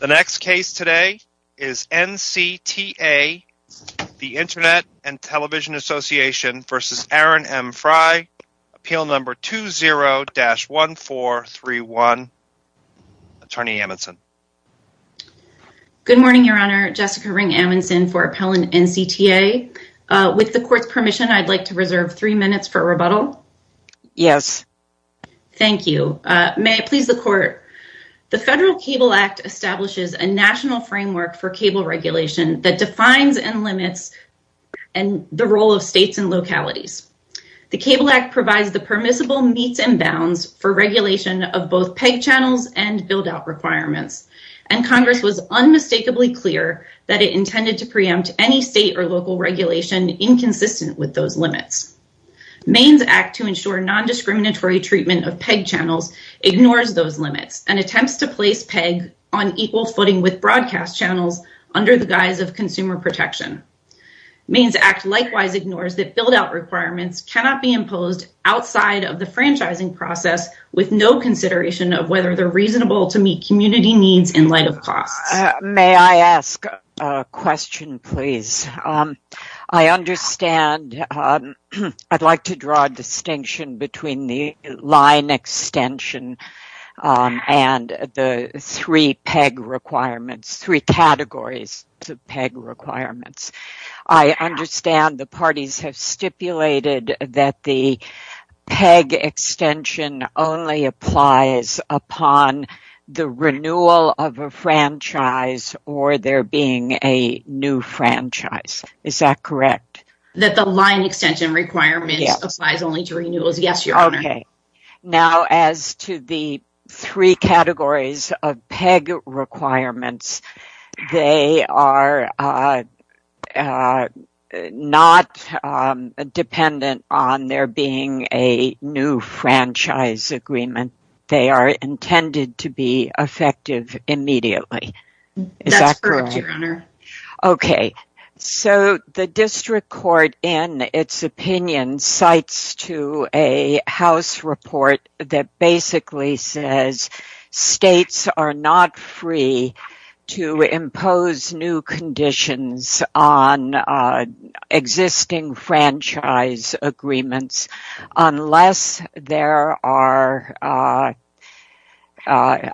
Appeal No. 20-1431 Attorney Amundson Good morning, Your Honor. Jessica Ring-Amundson for Appellant NCTA. With the Court's permission, I'd like to reserve three minutes for rebuttal. Yes. Thank you. May I please the Court? It was passed in 2012. The Cable Act establishes a national framework for cable regulation that defines and limits the role of states and localities. The Cable Act provides the permissible meets and bounds for regulation of both peg channels and build-out requirements. And Congress was unmistakably clear that it intended to preempt any state or local regulation inconsistent with those limits. Maine's Act to ensure non-discriminatory treatment of peg channels ignores those limits and attempts to place pegs on equal footing with broadcast channels under the guise of consumer protection. Maine's Act likewise ignores that build-out requirements cannot be imposed outside of the franchising process with no consideration of whether they're reasonable to meet community needs in light of cost. May I ask a question, please? I understand. I'd like to draw a distinction between the line extension and the three peg requirements, three categories of peg requirements. I understand the parties have stipulated that the peg extension only applies upon the renewal of a franchise or there being a new franchise. Is that correct? That the line extension requirement applies only to renewals. Yes, Your Honor. Okay. Now, as to the three categories of peg requirements, they are not dependent on there being a new franchise agreement. They are intended to be effective immediately. Is that correct? That's correct, Your Honor. Okay. So the district court in its opinion cites to a House report that basically says states are not free to impose new conditions on existing franchise agreements unless there are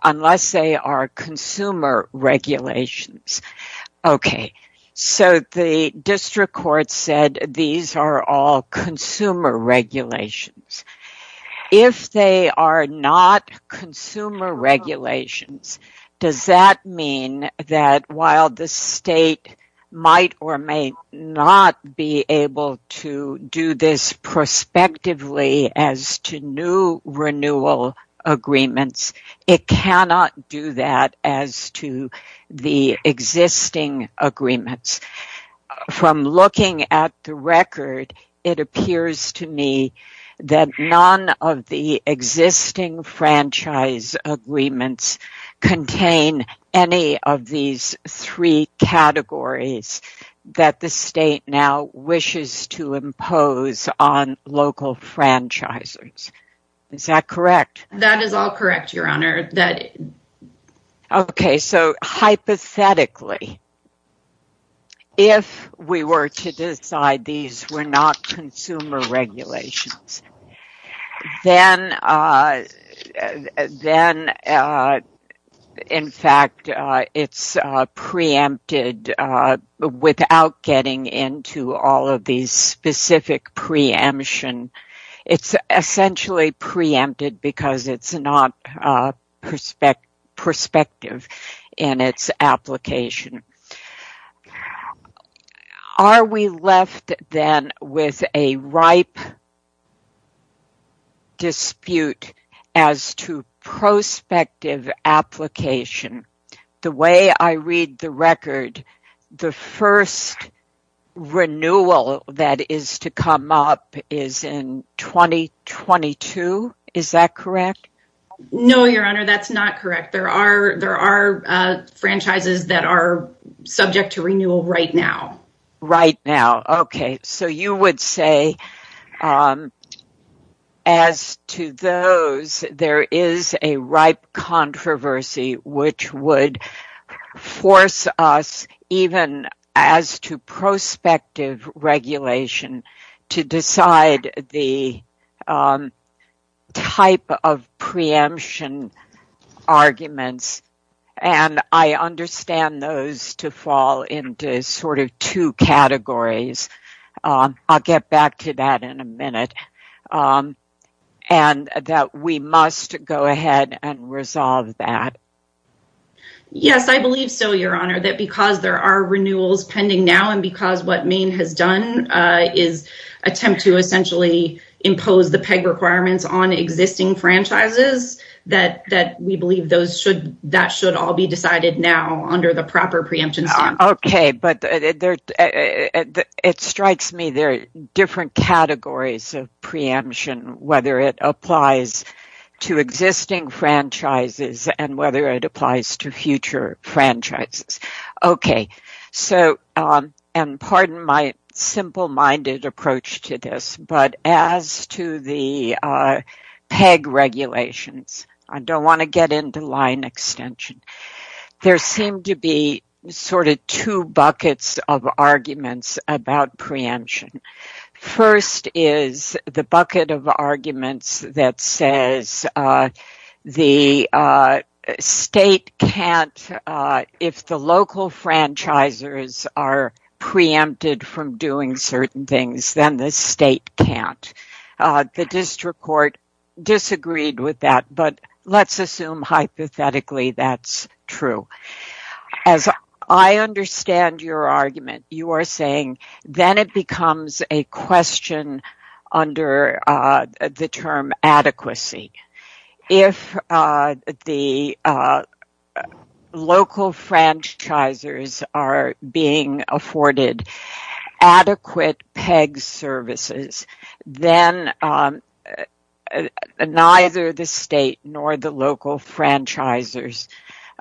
unless they are consumer regulations. Okay. So the district court said these are all consumer regulations. If they are not consumer regulations, does that mean that while the state might or may not be able to do this prospectively as to new renewal agreements, it cannot do that as to the existing agreements? From looking at the record, it appears to me that none of the existing franchise agreements contain any of these three categories that the state now wishes to impose on local franchisers. Is that correct? That is all correct, Your Honor. Okay. So hypothetically, if we were to decide these were not consumer regulations, then in fact it's preempted without getting into all of these specific categories. It's essentially preempted because it's not prospective in its application. Are we left then with a ripe dispute as to prospective application? The way I read the record, the first renewal that is to come up is in 2022. Is that correct? No, Your Honor, that's not correct. There are franchises that are subject to renewal right now. Right now. Okay. So you would say as to those, there is a ripe controversy which would force us even as to prospective regulation to decide the type of preemption arguments. And I understand those to fall into sort of two categories. I'll get back to that in a minute. And that we must go ahead and resolve that. Yes, I believe so, Your Honor, that because there are renewals pending now and because what Maine has done is attempt to essentially impose the PEG requirements on existing franchises, that we believe that should all be decided now under the proper preemption. Okay, but it strikes me there are different categories of preemption, whether it applies to existing franchises and whether it applies to future franchises. Okay. So, and pardon my simple-minded approach to this, but as to the PEG regulations, I don't want to get into line extension. There seem to be sort of two buckets of arguments about preemption. First is the bucket of arguments that says the state can't, if the local franchisers are preempted from doing certain things, then the state can't. The district court disagreed with that. But let's assume hypothetically that's true. As I understand your argument, you are saying then it becomes a question under the term adequacy. If the local franchisers are being afforded adequate PEG services, then neither the state nor the local franchisers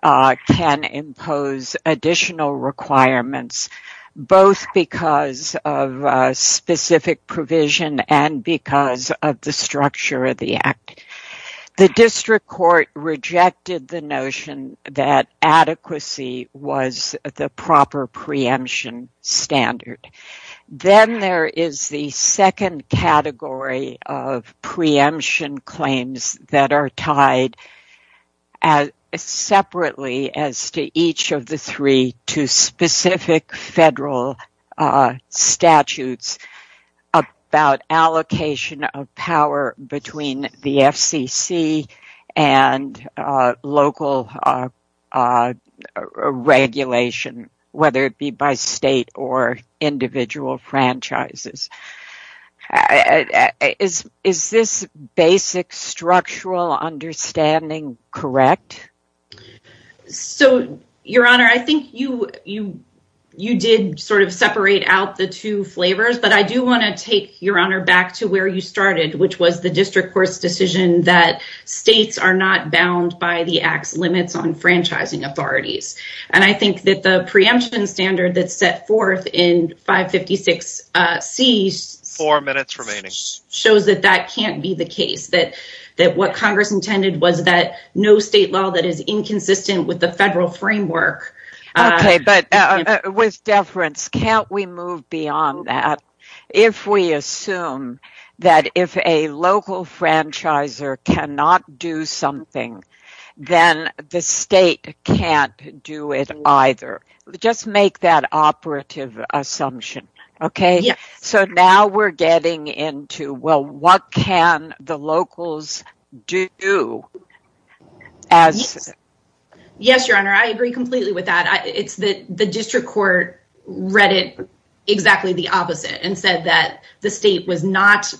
can impose additional requirements both because of specific provision and because of the structure of the act. The district court rejected the notion that adequacy was the proper preemption standard. Then there is the second category of preemption claims that are tied separately as to each of the three to specific federal statutes about allocation of power between the FCC and local regulation whether it be by state or individual franchises. Is this basic structural understanding correct? Your Honor, I think you did sort of separate out the two flavors, but I do want to take your Honor back to where you started, which was the district court's decision that states are not bound by the act's limits on franchising authorities. I think that the preemption standard that's set forth in 556C... Four minutes remaining. ...shows that that can't be the case. That what Congress intended was that no state law that is inconsistent with the federal framework... Okay, but with deference, can't we move beyond that? If we assume that if a local franchiser cannot do something, then the state can't do it either. Just make that operative assumption, okay? So now we're getting into, well, what can the locals do as... Yes, Your Honor, I agree completely with that. The district court read it exactly the opposite and said that the state was not...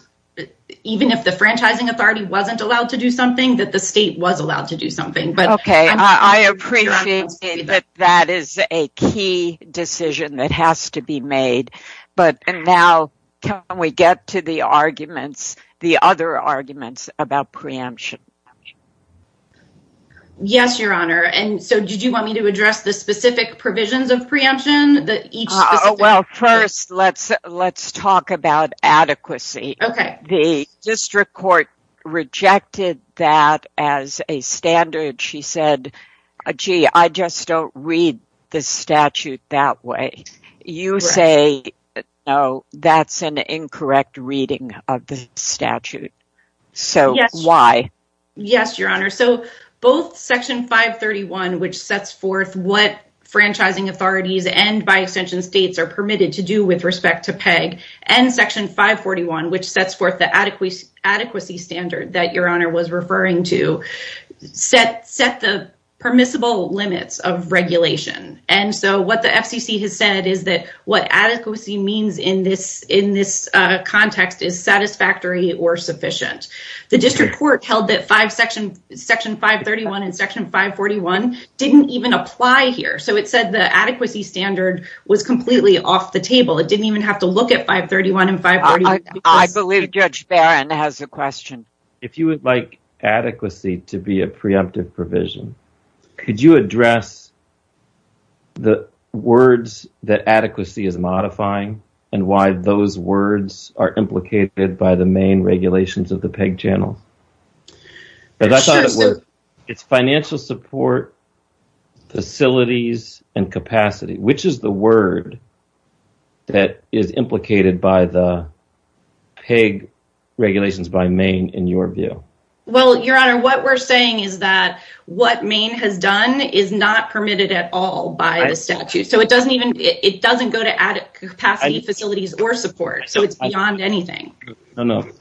Even if the franchising authority wasn't allowed to do something, that the state was allowed to do something. Okay, I appreciate that that is a key decision that has to be made, but now can we get to the arguments, the other arguments about preemption? Yes, Your Honor, and so did you want me to address the specific provisions of preemption that each... Well, first, let's talk about adequacy. Okay. The district court rejected that as a standard. She said, gee, I just don't read the statute that way. You say that's an incorrect reading of the statute. So why? Yes, Your Honor. So both Section 531, which sets forth what franchising authorities and by extension states are permitted to do with respect to PEG, and Section 541, which sets forth the adequacy standard that Your Honor was referring to, set the permissible limits of regulation. And so what the FCC has said is that what adequacy means in this context is satisfactory or sufficient. The district court held that Section 531 and Section 541 didn't even apply here. So it said the adequacy standard was completely off the table. It didn't even have to look at 531 and 541. I believe Judge Barron has a question. If you would like adequacy to be a preemptive provision, could you address the words that adequacy is modifying and why those words are implicated by the Maine regulations of the PEG channel? It's financial support, facilities, and capacity. Which is the word that is implicated by the PEG regulations by Maine in your view? Well, Your Honor, what we're saying is that what Maine has done is not permitted at all by the statute. So it doesn't go to capacity, facilities, or support. So it's beyond anything. No, no.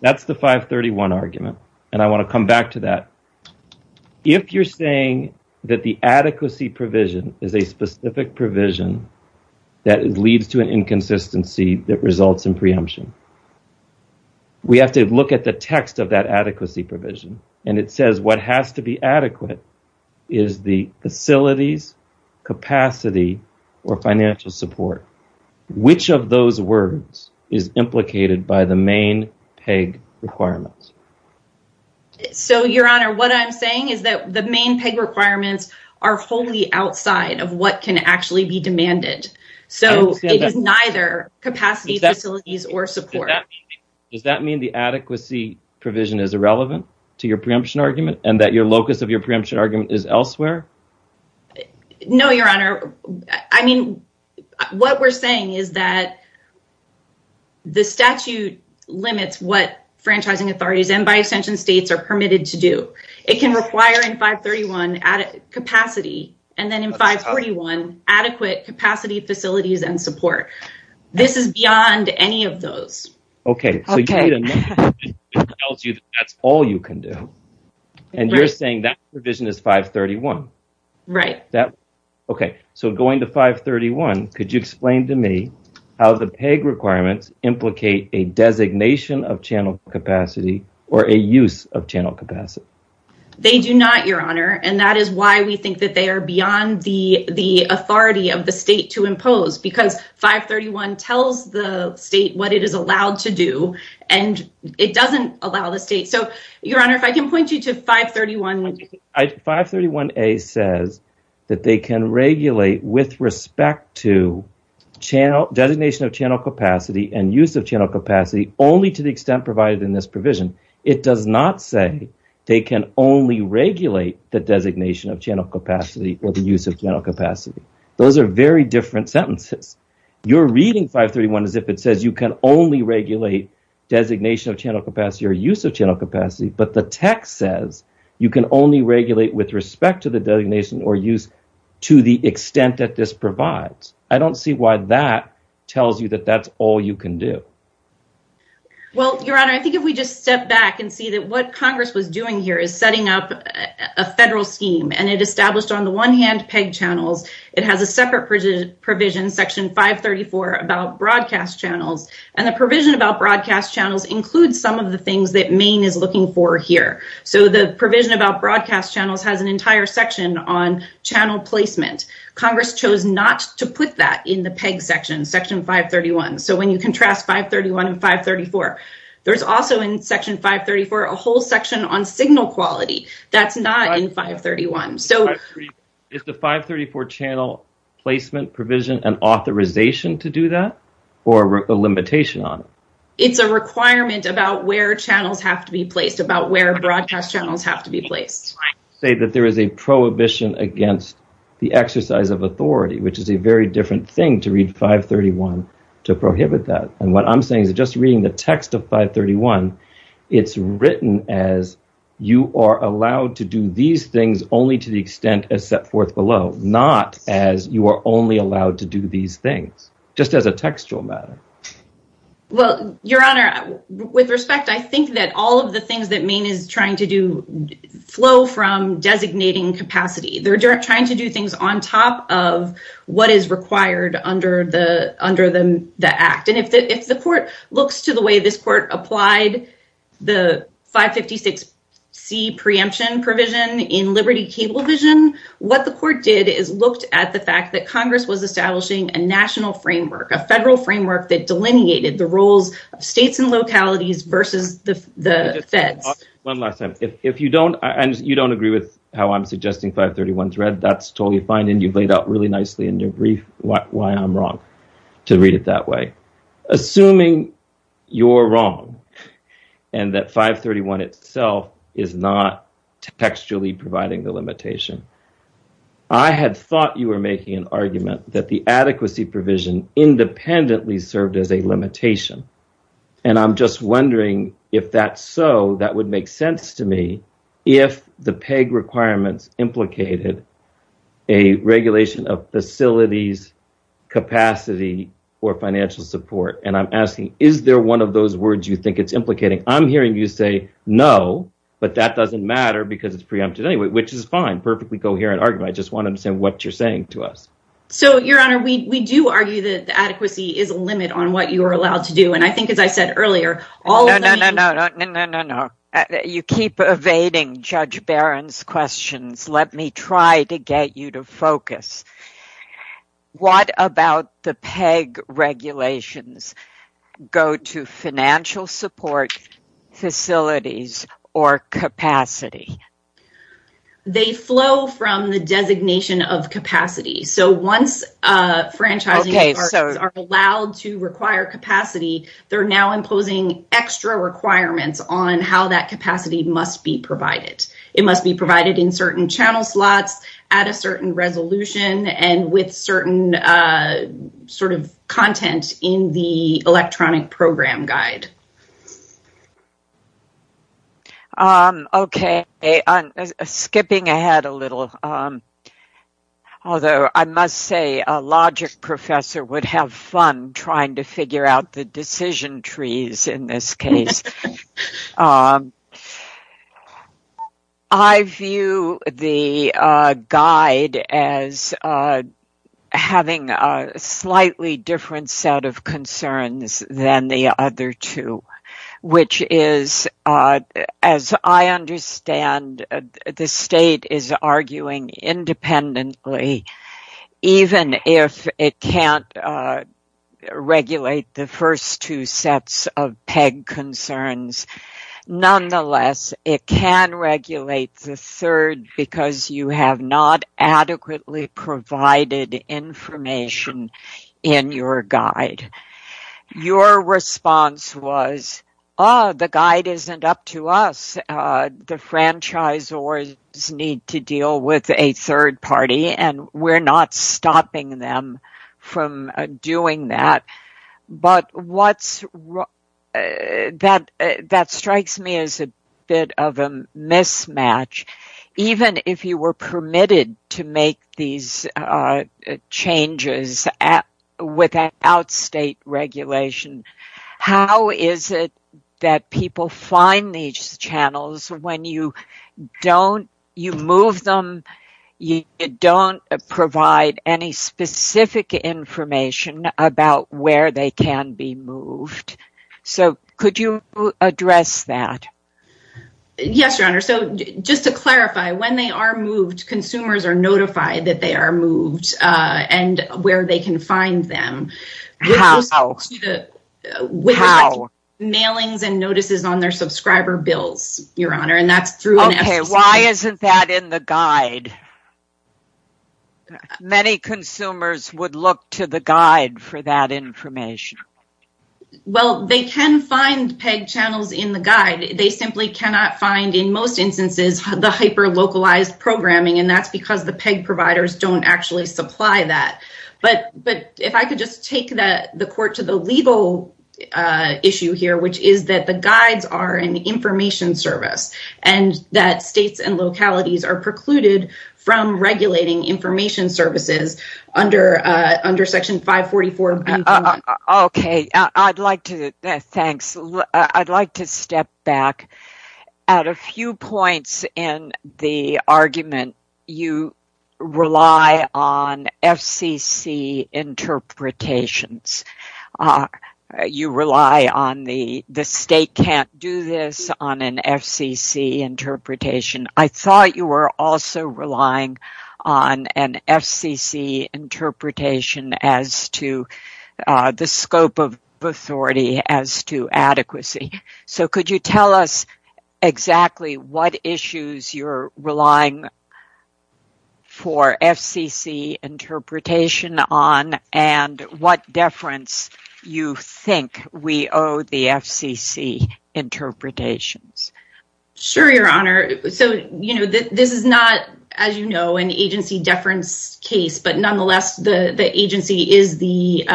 That's the 531 argument. And I want to come back to that. If you're saying that the adequacy provision is a specific provision that leads to an inconsistency that results in preemption, we have to look at the text of that adequacy provision. And it says what has to be adequate is the facilities, capacity, or financial support. Which of those words is implicated by the Maine PEG requirements? So, Your Honor, what I'm saying is that the Maine PEG requirements are wholly outside of what can actually be demanded. So it is neither capacity, facilities, or support. Does that mean the adequacy provision is irrelevant to your preemption argument and that your locus of your preemption argument is elsewhere? No, Your Honor. I mean, what we're saying is that the statute limits what franchising authorities and by extension states are permitted to do. It can require in 531 capacity. And then in 531, adequate capacity, facilities, and support. This is beyond any of those. Okay. So you're saying that that's all you can do. And you're saying that provision is 531? Right. Okay. So going to 531, could you explain to me how the PEG requirements implicate a designation of channel capacity or a use of channel capacity? They do not, Your Honor. And that is why we think that they are beyond the authority of the state to impose. Because 531 tells the state what it is allowed to do. And it doesn't allow the state. So, Your Honor, if I can point you to 531. 531A says that they can regulate with respect to designation of channel capacity and use of channel capacity only to the extent provided in this provision. It does not say they can only regulate the designation of channel capacity or the use of channel capacity. Those are very different sentences. You're reading 531 as if it says you can only regulate designation of channel capacity or use of channel capacity. But the text says you can only regulate with respect to the designation or use to the extent that this provides. I don't see why that tells you that that's all you can do. Well, Your Honor, I think if we just step back and see that what Congress was doing here is setting up a federal scheme. And it established on the one hand PEG channels. It has a separate provision, Section 534, about broadcast channels. And the provision about broadcast channels includes some of the things that Maine is looking for here. So, the provision about broadcast channels has an entire section on channel placement. Congress chose not to put that in the PEG section, Section 531. So, when you contrast 531 and 534, there's also in Section 534 a whole section on signal quality. That's not in 531. Is the 534 channel placement provision an limitation on it? It's a requirement about where channels have to be placed, about where broadcast channels have to be placed. I would say that there is a prohibition against the exercise of authority, which is a very different thing to read 531 to prohibit that. And what I'm saying is just reading the text of 531, it's written as you are allowed to do these things only to the extent as set forth below, not as you are only allowed to do these things. Just as a textual matter. Well, Your Honor, with respect, I think that all of the things that Maine is trying to do flow from designating capacity. They're trying to do things on top of what is required under the Act. And if the Court looks to the way this Court applied the 556C preemption provision in Liberty Cable Vision, what the Court did is looked at the fact that Congress was establishing a national framework, a federal framework that delineated the roles of states and localities versus the Fed. One last time. If you don't, and you don't agree with how I'm suggesting 531 is read, that's totally fine and you've laid out really nicely in your brief why I'm wrong to read it that way. Assuming you're wrong and that 531 itself is not textually providing the limitation, I had thought you were making an argument that the adequacy provision independently served as a limitation. And I'm just wondering if that's so, that would make sense to me if the PEG requirements implicated a regulation of facilities, capacity, or financial support. And I'm asking, is there one of those words you think it's implicating? I'm hearing you say no, but that doesn't matter because it's preempted anyway, which is fine. Perfectly coherent argument. I just want to understand what you're saying to us. So, Your Honor, we do argue that the adequacy is a limit on what you are allowed to do. And I think as I said earlier, all of the... No, no, no, no, no, no, no, no, no. You keep evading Judge Barron's questions. Let me try to get you to focus. What about the PEG regulations go to financial support, facilities, or capacity? They flow from the designation of capacity. So once franchises are allowed to require capacity, they're now imposing extra requirements on how that capacity must be provided. It must be provided in certain channel slots, at a certain resolution, and with certain content in the electronic program guide. Okay. Skipping ahead a little. Although, I must say, a logic professor would have fun trying to figure out the decision trees in this case. I view the guide as having a slightly different set of concerns than the first two, which is as I understand, the state is arguing independently, even if it can't regulate the first two sets of PEG concerns. Nonetheless, it can regulate the third because you have not adequately provided information in your guide. Your response was, oh, the guide isn't up to us. The franchisors need to deal with a third party and we're not stopping them from doing that. But what's that strikes me as a bit of a mismatch. Even if you were permitted to make these changes without state regulations, how is it that people find these channels when you move them and you don't provide any specific information about where they can be moved? Could you address that? Yes, your honor. Just to clarify, when they are moved, consumers are notified that they are moved and where they can find them. How? Mailings and notices on their subscriber bills, your honor. Why isn't that in the guide? Many consumers would look to the guide for that information. Well, they can find PEG channels in the guide. They simply cannot find, in most instances, the hyper localized programming and that's because the PEG providers don't actually supply that. But if I could just take the court to the legal issue here, which is that the guides are in the information service and that states and localities are precluded from regulating information services under section 544. Thanks. I'd like to step back at a few points in the argument. You rely on FCC interpretations. You rely on the state can't do this on an FCC interpretation. I thought you were also relying on an FCC interpretation as to the scope of authority as to adequacy. So could you tell us exactly what issues you're relying for FCC interpretation on and what deference you think we owe the FCC interpretations? Sure, your honor. This is not, as you know, an agency deference case, but nonetheless, the agency is the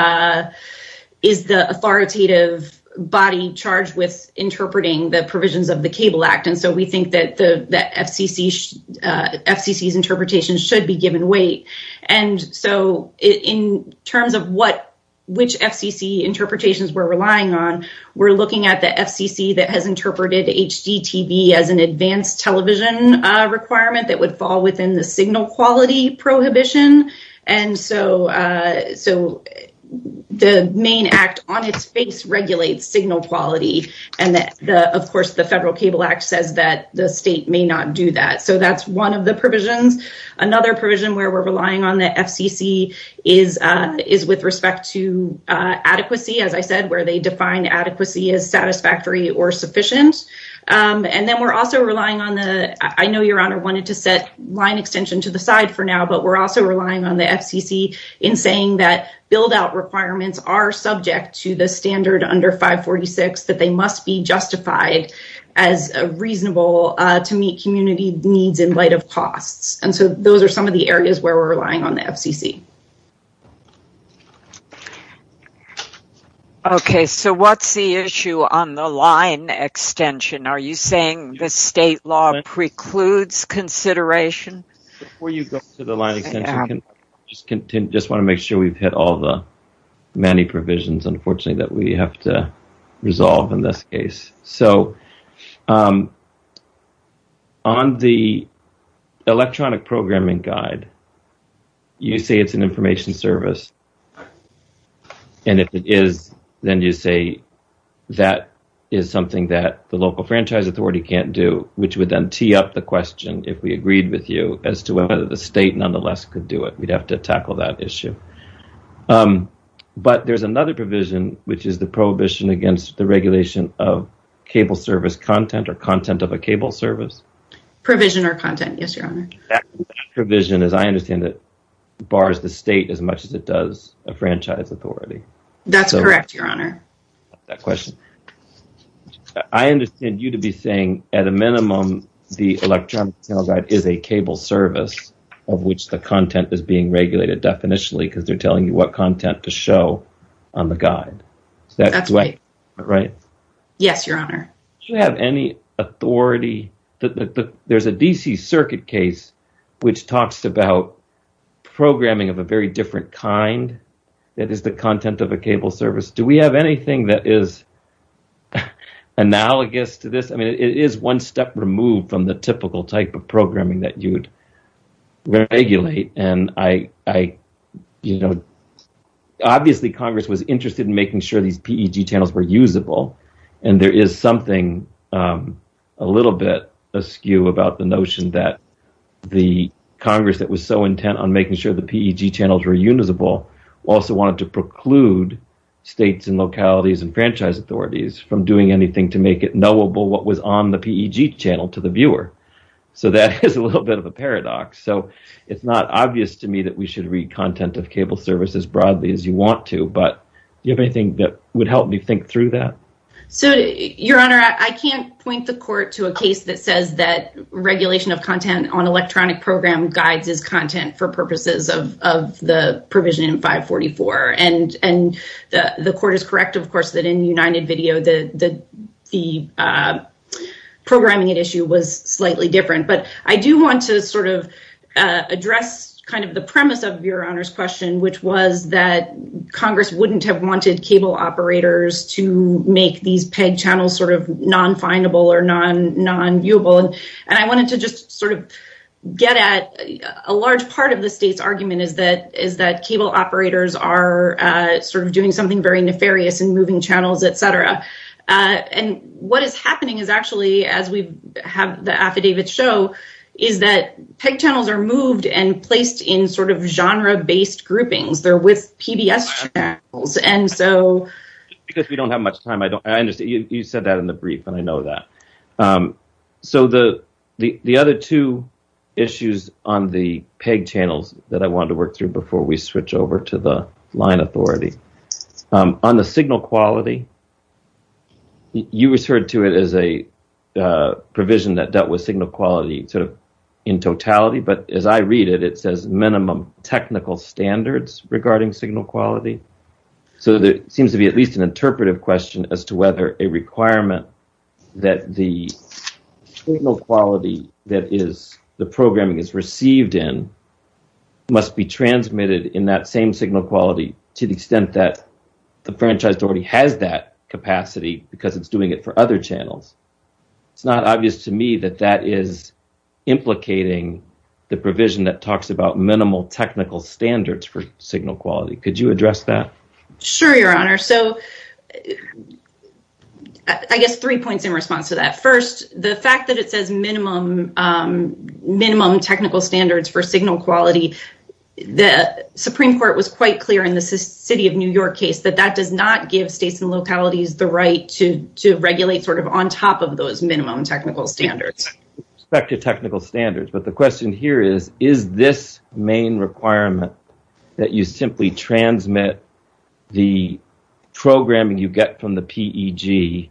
authoritative body in charge with interpreting the provisions of the Cable Act. We think that FCC's interpretation should be given weight. In terms of which FCC interpretations we're relying on, we're looking at the FCC that has interpreted HDTV as an advanced television requirement that would fall within the signal quality prohibition. The main act of the Federal Cable Act is to regulate signal quality. And, of course, the Federal Cable Act says that the state may not do that. So that's one of the provisions. Another provision where we're relying on the FCC is with respect to adequacy, as I said, where they define adequacy as satisfactory or sufficient. And then we're also relying on the, I know your honor wanted to set line extension to the side for now, but we're also relying on the FCC in saying that build-out requirements are subject to the standard under 546, that they must be justified as reasonable to meet community needs in light of cost. And so those are some of the areas where we're relying on the FCC. Okay, so what's the issue on the line extension? Are you saying the state law precludes consideration? Before you go to the line extension, I just want to make sure we've hit all the many provisions, unfortunately, that we have to resolve in this case. On the electronic programming guide, you say it's an information service. And if it is, then you say that is something that the local franchise authority can't do, which would then tee up the question, if we agreed with you, as to whether the state nonetheless could do it. We'd have to tackle that issue. But there's another provision, which is the prohibition against the regulation of cable service content or content of a cable service. That provision, as I understand it, bars the state as much as it does a franchise authority. That's correct, your honor. I understand you to be saying at a minimum, the electronic programming guide is a cable service of which the content is being regulated definitionally because they're telling you what content to show on the guide. Yes, your honor. There's a D.C. Circuit case which talks about programming of a very different kind that is the content of a cable service. Do we have anything that is analogous to this? It is one step removed from the typical type of programming that you'd regulate. Obviously, Congress was interested in making sure these PEG channels were usable. And there is something a little bit askew about the notion that the Congress that was so intent on making sure the PEG channels were usable also wanted to preclude states and localities and make it knowable what was on the PEG channel to the viewer. That is a little bit of a paradox. It's not obvious to me that we should read content of cable service as broadly as you want to, but do you have anything that would help me think through that? Your honor, I can't point the court to a case that says that regulation of content on electronic program guides is content for purposes of the provision in 544. The court is correct, of course, that in the United video, the programming issue was slightly different. I do want to address the premise of your honor's question, which was that Congress wouldn't have wanted cable operators to make these PEG channels non-findable or non-viewable. I wanted to get at a large part of the state's argument is that cable operators are sort of doing something very nefarious and moving channels, etc. What is happening is actually, as we have the affidavit show, is that PEG channels are moved and placed in sort of genre-based groupings. They're with PBS channels. Because we don't have much time, I understand. You said that in the brief, and I know that. The other two issues on the PEG channels that I wanted to work through before we switch over to the line authority. On the signal quality, you referred to it as a provision that dealt with signal quality in totality, but as I read it, it says minimum technical standards regarding signal quality. So there seems to be at least an interpretive question as to whether a requirement that the signal quality that the programming is received in must be transmitted in that same signal quality to the extent that the franchise already has that capacity because it's doing it for other channels. It's not obvious to me that that is implicating the provision that talks about minimal technical standards for signal quality. Could you address that? Sure, Your Honor. So I guess three points in response to that. First, the fact that it says minimum technical standards for signal quality, the Supreme Court was quite clear in the City of New York case that that does not give states and localities the right to regulate sort of on top of those minimum technical standards. With respect to technical standards, but the question here is, is this main requirement that you simply transmit the programming you get from the PEG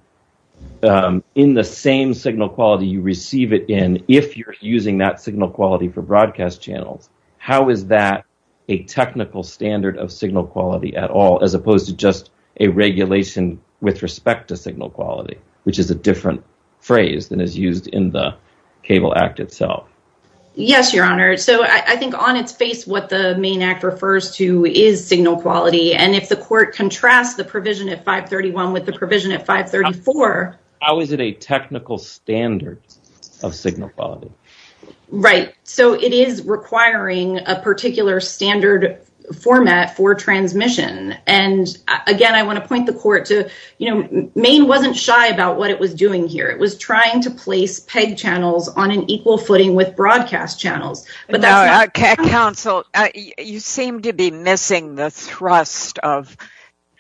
in the same signal quality you receive it in if you're using that signal quality for broadcast channels, how is that a technical standard of signal quality at all as opposed to just a regulation with respect to signal quality, which is a different phrase than is used in the Cable Act itself? Yes, Your Honor. So I think on its face what the main act refers to is signal quality, and if the court contrasts the provision at 531 with the provision at 534... How is it a technical standard of signal quality? Right. So it is requiring a particular standard format for transmission. And again, I want to point the court to Maine wasn't shy about what it was doing here. It was trying to place PEG channels on an equal footing with broadcast channels. Counsel, you seem to be missing the thrust of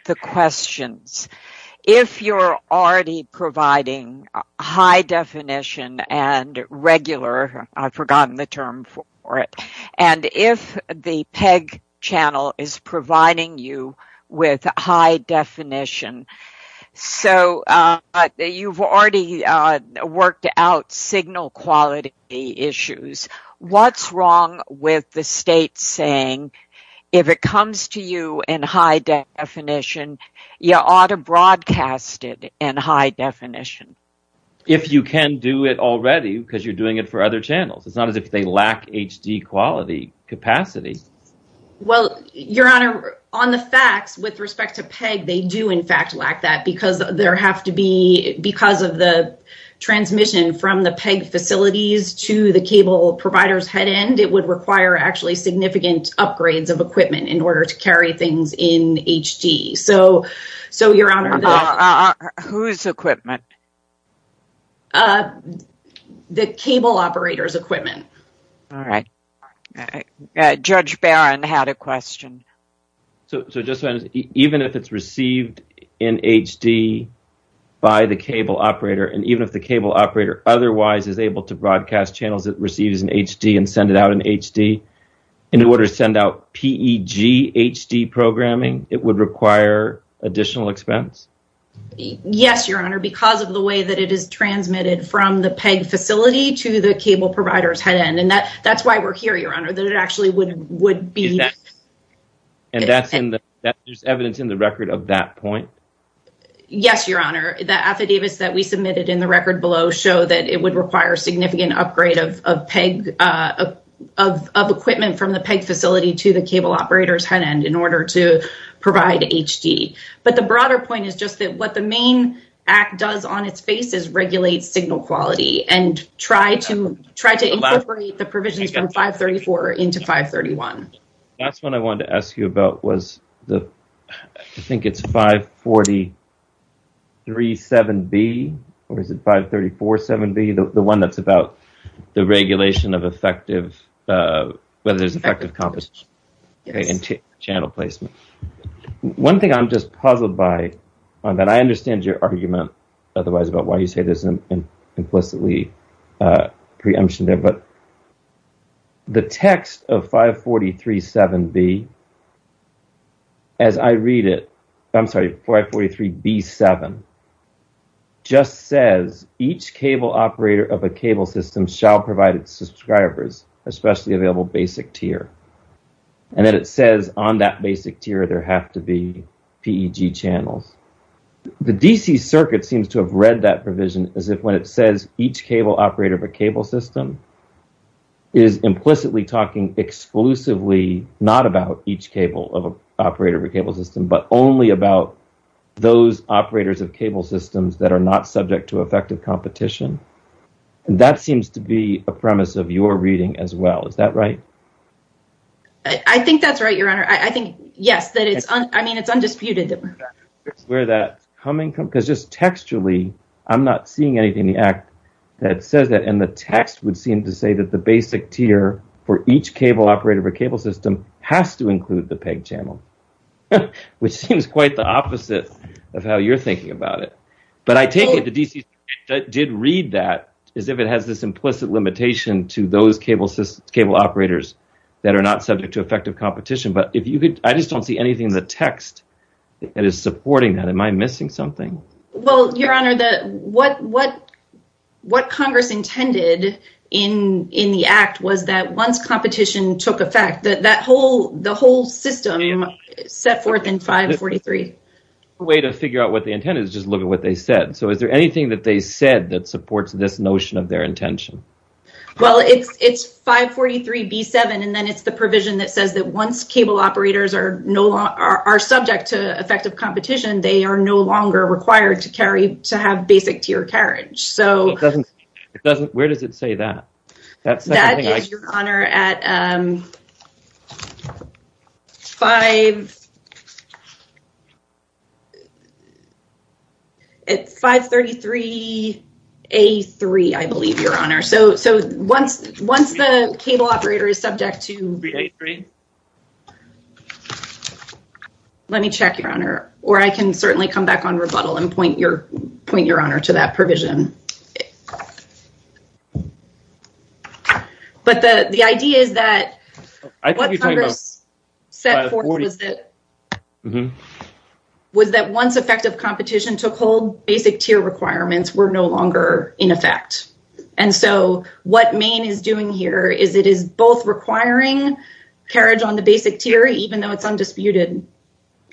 the questions. If you're already providing high definition and regular I've forgotten the term for it. And if the PEG channel is providing you with high definition, so you've already worked out signal quality issues. What's wrong with the state saying if it comes to you in high definition, you ought to broadcast it in high definition? If you can do it already because you're doing it for other channels. It's not as if they lack HD quality capacity. Well, Your Honor, on the facts, with respect to PEG, they do in fact lack that because there has to be, because of the transmission from the PEG facilities to the cable provider's head end, it would require actually significant upgrades of equipment in order to carry things in HD. So, Your Honor... Whose equipment? The cable operator's equipment. Judge Barron had a question. Even if it's received in HD by the cable operator, and even if the cable operator otherwise is able to broadcast channels that receive in HD and send it out in HD, in order to send out PEG HD programming, it would require additional expense? Yes, Your Honor, because of the way that it is transmitted from the PEG facility to the cable provider's head end, and that's why we're here, Your Honor, that it actually would be... And that's just evidence in the record of that point? Yes, Your Honor. The affidavits that we submitted in the record below show that it would require significant upgrade of equipment from the PEG facility to the cable operator's head end in order to provide HD. But the broader point is just that what the main act does on its face is regulate signal quality and try to incorporate the provisions from 534 into 531. The last one I wanted to ask you about was I think it's 543.7b or is it 534.7b, the one that's about the whether there's an effective... channel placement. One thing I'm just puzzled by, and I understand your argument otherwise about why you say this implicitly preemption there, but the text of 543.7b, as I read it, I'm sorry, 543.b.7, just says, each cable operator of a cable system shall provide its subscribers, especially available basic tier. And then it says on that basic tier there has to be PEG channel. The DC circuit seems to have read that provision as if when it says each cable operator of a cable system is implicitly talking exclusively not about each cable of an operator of a cable system, but only about those operators of cable systems that are not subject to effective competition. That seems to be a premise of your reading as well. Is that right? I think that's right, Your Honor. I think, yes. I mean, it's undisputed. Textually, I'm not seeing anything in the act that says that in the text would seem to say that the basic tier for each cable operator of a cable system has to include the PEG channel, which seems quite the opposite of how you're thinking about it. But I take it that the DC did read that as if it has this implicit limitation to those cable operators that are not subject to effective competition. But I just don't see anything in the text that is supporting that. Am I missing something? Well, Your Honor, what Congress intended in the act was that once competition took effect, that the whole system set forth in 543. A way to figure out what they intended is just look at what they said. So is there anything that they said that supports this notion of their intention? Well, it's 543 B7, and then it's the provision that says that once cable operators are subject to effective competition, they are no longer required to have basic tier carriage. Where does it say that? That says, Your Honor, at 5... It's 533 A3, I believe, Your Honor. So once the cable operator is subject to... Let me check, Your Honor. Or I can certainly come back on rebuttal and point Your Honor to that provision. But the idea is that... What Congress set forth was that once effective competition took hold, basic tier requirements were no longer in effect. And so what Maine is doing here is it is both requiring carriage on the basic tier, even though it's undisputed.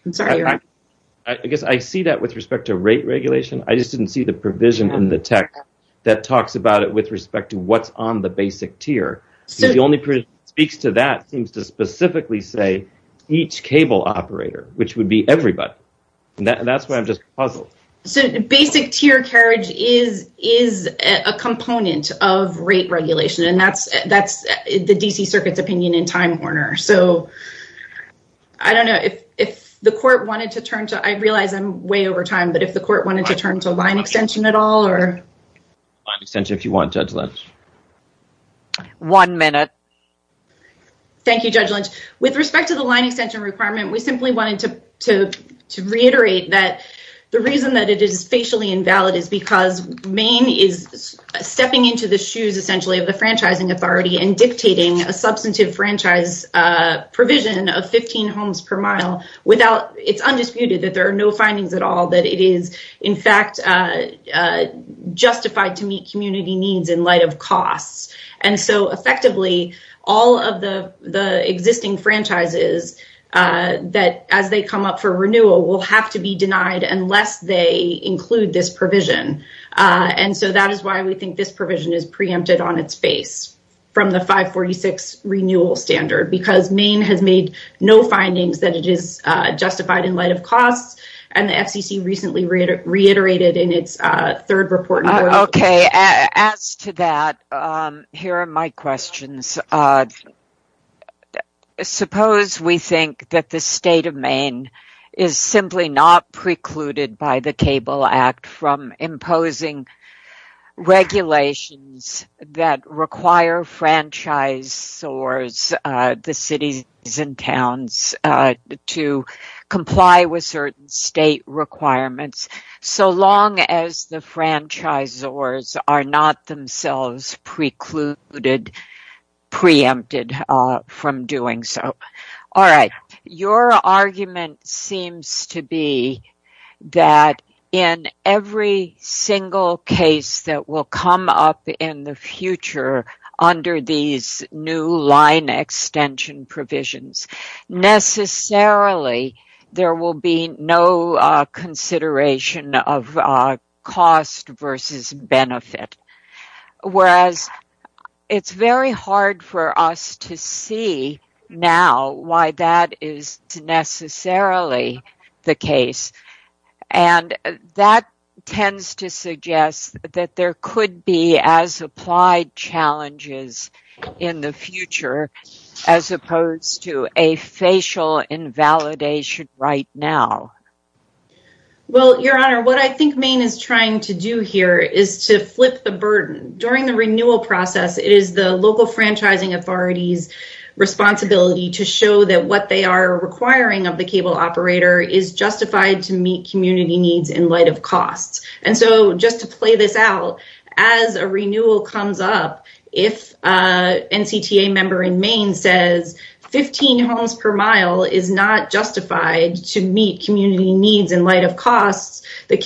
I'm sorry, Your Honor. I guess I see that with respect to rate regulation. I just didn't see the provision in the text that talks about it with respect to what's on the basic tier. The only provision that speaks to that seems to specifically say each cable operator, which would be everybody. And that's why I'm just puzzled. So basic tier carriage is a component of rate regulation. And that's the D.C. Circuit's opinion in Time Warner. So I don't know if the court wanted to turn to... I realize I'm way over time, but if the court wanted to turn to line extension at all or... Line extension if you want, Judge Lynch. One minute. Thank you, Judge Lynch. With respect to the line extension requirement, we simply wanted to reiterate that the reason that it is spatially invalid is because Maine is stepping into the shoes, essentially, of the franchising authority and dictating a substantive franchise provision of 15 homes per mile without... It's undisputed that there are no findings at all that it is, in fact, justified to meet community needs in light of cost. And so, effectively, all of the existing franchises that, as they come up for renewal, will have to be denied unless they include this provision. And so that is why we think this provision is preempted on its face from the 546 renewal standard, because Maine has made no findings that it is justified in light of cost. And the SEC recently reiterated in its third report... Okay. As to that, here are my questions. Suppose we think that the state of Maine is simply not precluded by the Table Act from imposing regulations that require franchisors, the cities and towns, to comply with certain state requirements, so long as the franchisors are not themselves precluded, preempted from doing so. All right. Your argument seems to be that in every single case that will come up in the future under these new line extension provisions, necessarily there will be no consideration of cost versus benefit. Whereas it's very hard for us to see now why that is necessarily the case. And that tends to suggest that there could be as applied challenges in the future as opposed to a facial invalidation right now. Well, Your Honor, what I think Maine is trying to do here is to flip the burden. During the renewal process, it is the local franchising authority's responsibility to show that what they are requiring of the cable operator is justified to meet community needs in light of cost. And so just to play this out, as a renewal comes up, if an NCTA member in Maine says 15 homes per mile is not justified to meet community needs in light of cost, the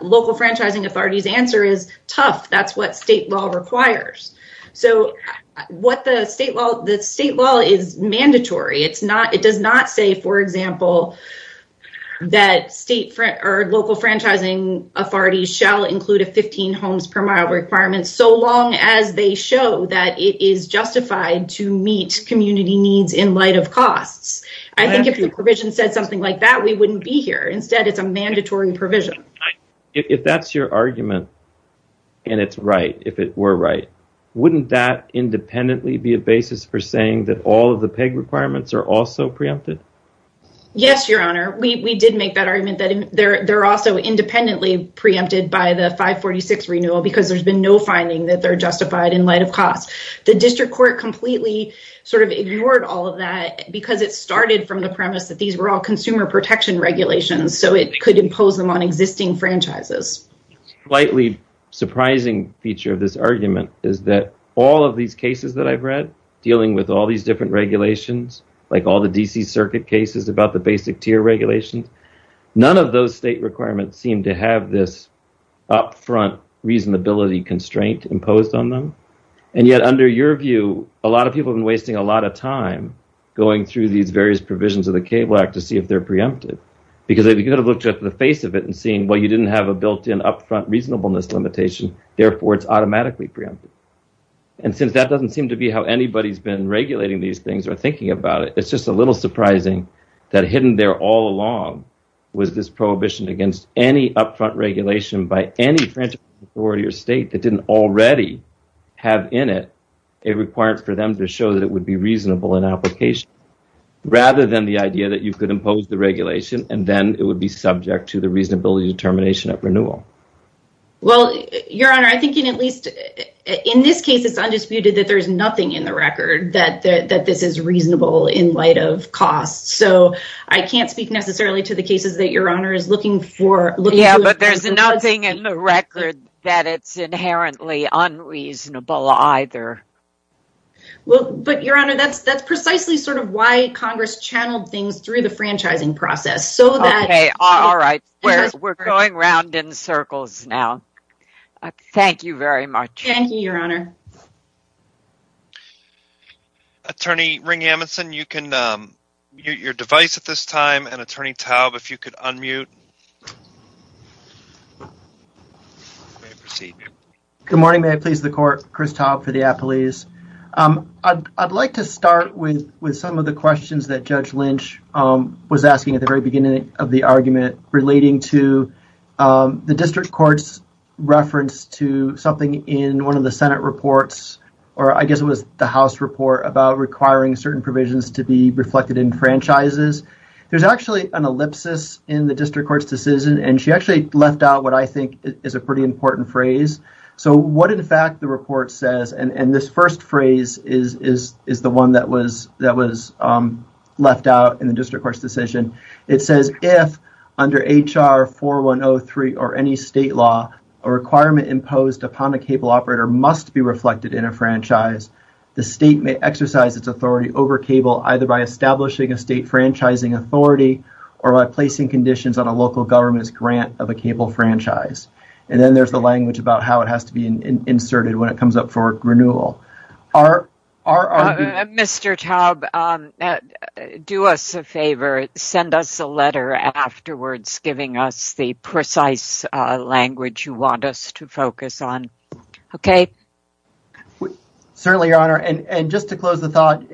local franchising authority's answer is tough. That's what state law requires. So what the state law is mandatory. It does not say, for example, that local franchising authorities shall include a 15 homes per mile requirement, so long as they show that it is justified to meet community needs in light of cost. I think if your provision said something like that, we wouldn't be here. Instead, it's a mandatory provision. If that's your argument and it's right, if it were right, wouldn't that independently be a basis for saying that all of the PEG requirements are also preempted? Yes, Your Honor. We did make that argument that they're also independently preempted by the 546 renewal because there's been no finding that they're justified in light of cost. The district court completely sort of ignored all of that because it started from the premise that these were all consumer protection regulations, so it could impose them on existing franchises. A slightly surprising feature of this argument is that all of these cases that I've read, dealing with all these different regulations, like all the D.C. Circuit cases about the basic tier regulation, none of those state requirements seem to have this up-front reasonability constraint imposed on them. And yet under your view, a lot of people have been wasting a lot of time going through these various provisions of the CABLE Act to see if they're preempted. Because if you could have looked at the face of it and seen, well, you didn't have a built-in up-front reasonableness limitation, therefore it's automatically preempted. And since that doesn't seem to be how anybody's been regulating these things or thinking about it, it's just a little surprising that hidden there all along was this prohibition against any up-front regulation by any franchise authority or state that didn't already have in it a requirement for them to show that it would be reasonable in application, rather than the idea that you could impose the regulation and then it would be subject to the reasonability determination of renewal. Well, Your Honor, I think in at least in this case it's undisputed that there's nothing in the record that this is reasonable in light of cost. So I can't speak necessarily to the cases that Your Honor is looking for. Yeah, but there's nothing in the record that it's inherently unreasonable either. Well, but Your Honor, that's precisely sort of why Congress channeled things through the franchising process. Okay. All right. We're going round in circles now. Thank you very much. Thank you, Your Honor. Attorney Ring-Hamilson, you can unmute. Good morning. May I please the Court? Chris Taub for the Appalachians. I'd like to start with some of the questions that Judge Lynch was asking at the very beginning of the argument relating to the District Court's reference to something in one of the Senate reports, or I guess it was the House report, about requiring certain provisions to be reflected in an ellipsis in the District Court's decision. And she actually left out what I think is a pretty important phrase. So what, in fact, the report says and this first phrase is the one that was left out in the District Court's decision. It says, if under HR 4103 or any state law, a requirement imposed upon a cable operator must be reflected in a franchise, the state may exercise its authority over cable either by establishing a state franchising authority or by placing conditions on a local government's grant of a cable franchise. And then there's the language about how it has to be inserted when it comes up for renewal. Mr. Taub, do us a favor. Send us a letter afterwards giving us the precise language you want us to focus on. Okay? Certainly, Your Honor. And just to close the thought,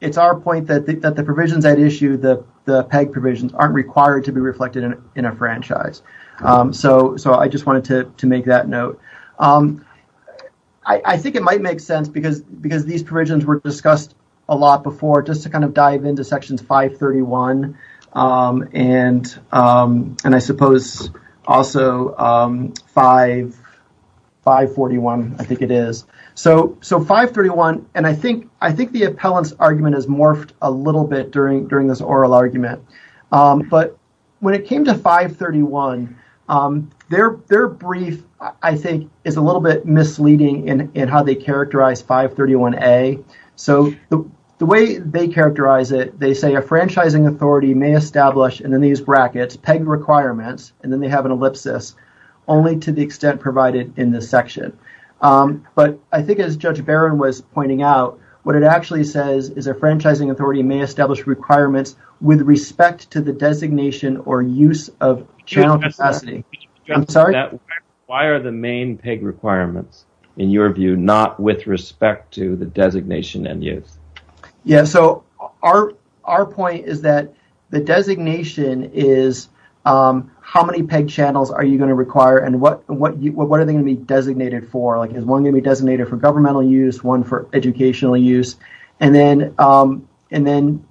it's our point that the provisions at issue, the PEG provisions, aren't required to be reflected in a franchise. So I just wanted to make that note. I think it might make sense, because these provisions were discussed a lot before, just to kind of dive into Section 531 and I suppose also 541, I think it is. So 531, and I think the appellant's argument has morphed a little bit during this oral argument, but when it came to 531, their brief I think is a little bit misleading in how they characterize 531A. So the way they characterize it, they say a franchising authority may establish in these brackets PEG requirements, and then they have an ellipsis, only to the extent provided in this section. But I think as Judge Barron was pointing out, what it actually says is a franchising authority may establish requirements with respect to the designation or use of channel capacity. I'm sorry? Why are the main PEG requirements in your view not with respect to the designation and use? Yeah, so our point is that the designation is how many PEG channels are you going to require and what are they going to be designated for? Is one going to be designated for governmental use, one for educational use, and then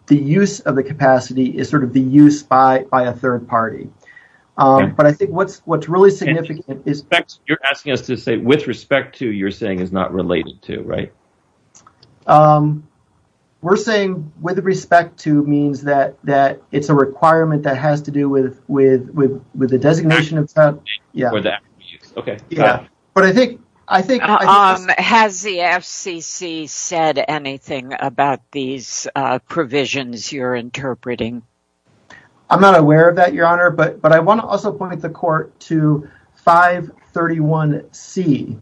the use of the capacity is sort of the use by a third party. But I think what's really significant You're asking us to say with respect to, you're saying is not related to, right? We're saying with respect to means that it's a requirement that has to do with the designation. Has the FCC said anything about these provisions you're interpreting? I'm not aware of that, Your Honor, but I want to also point the court to 531C,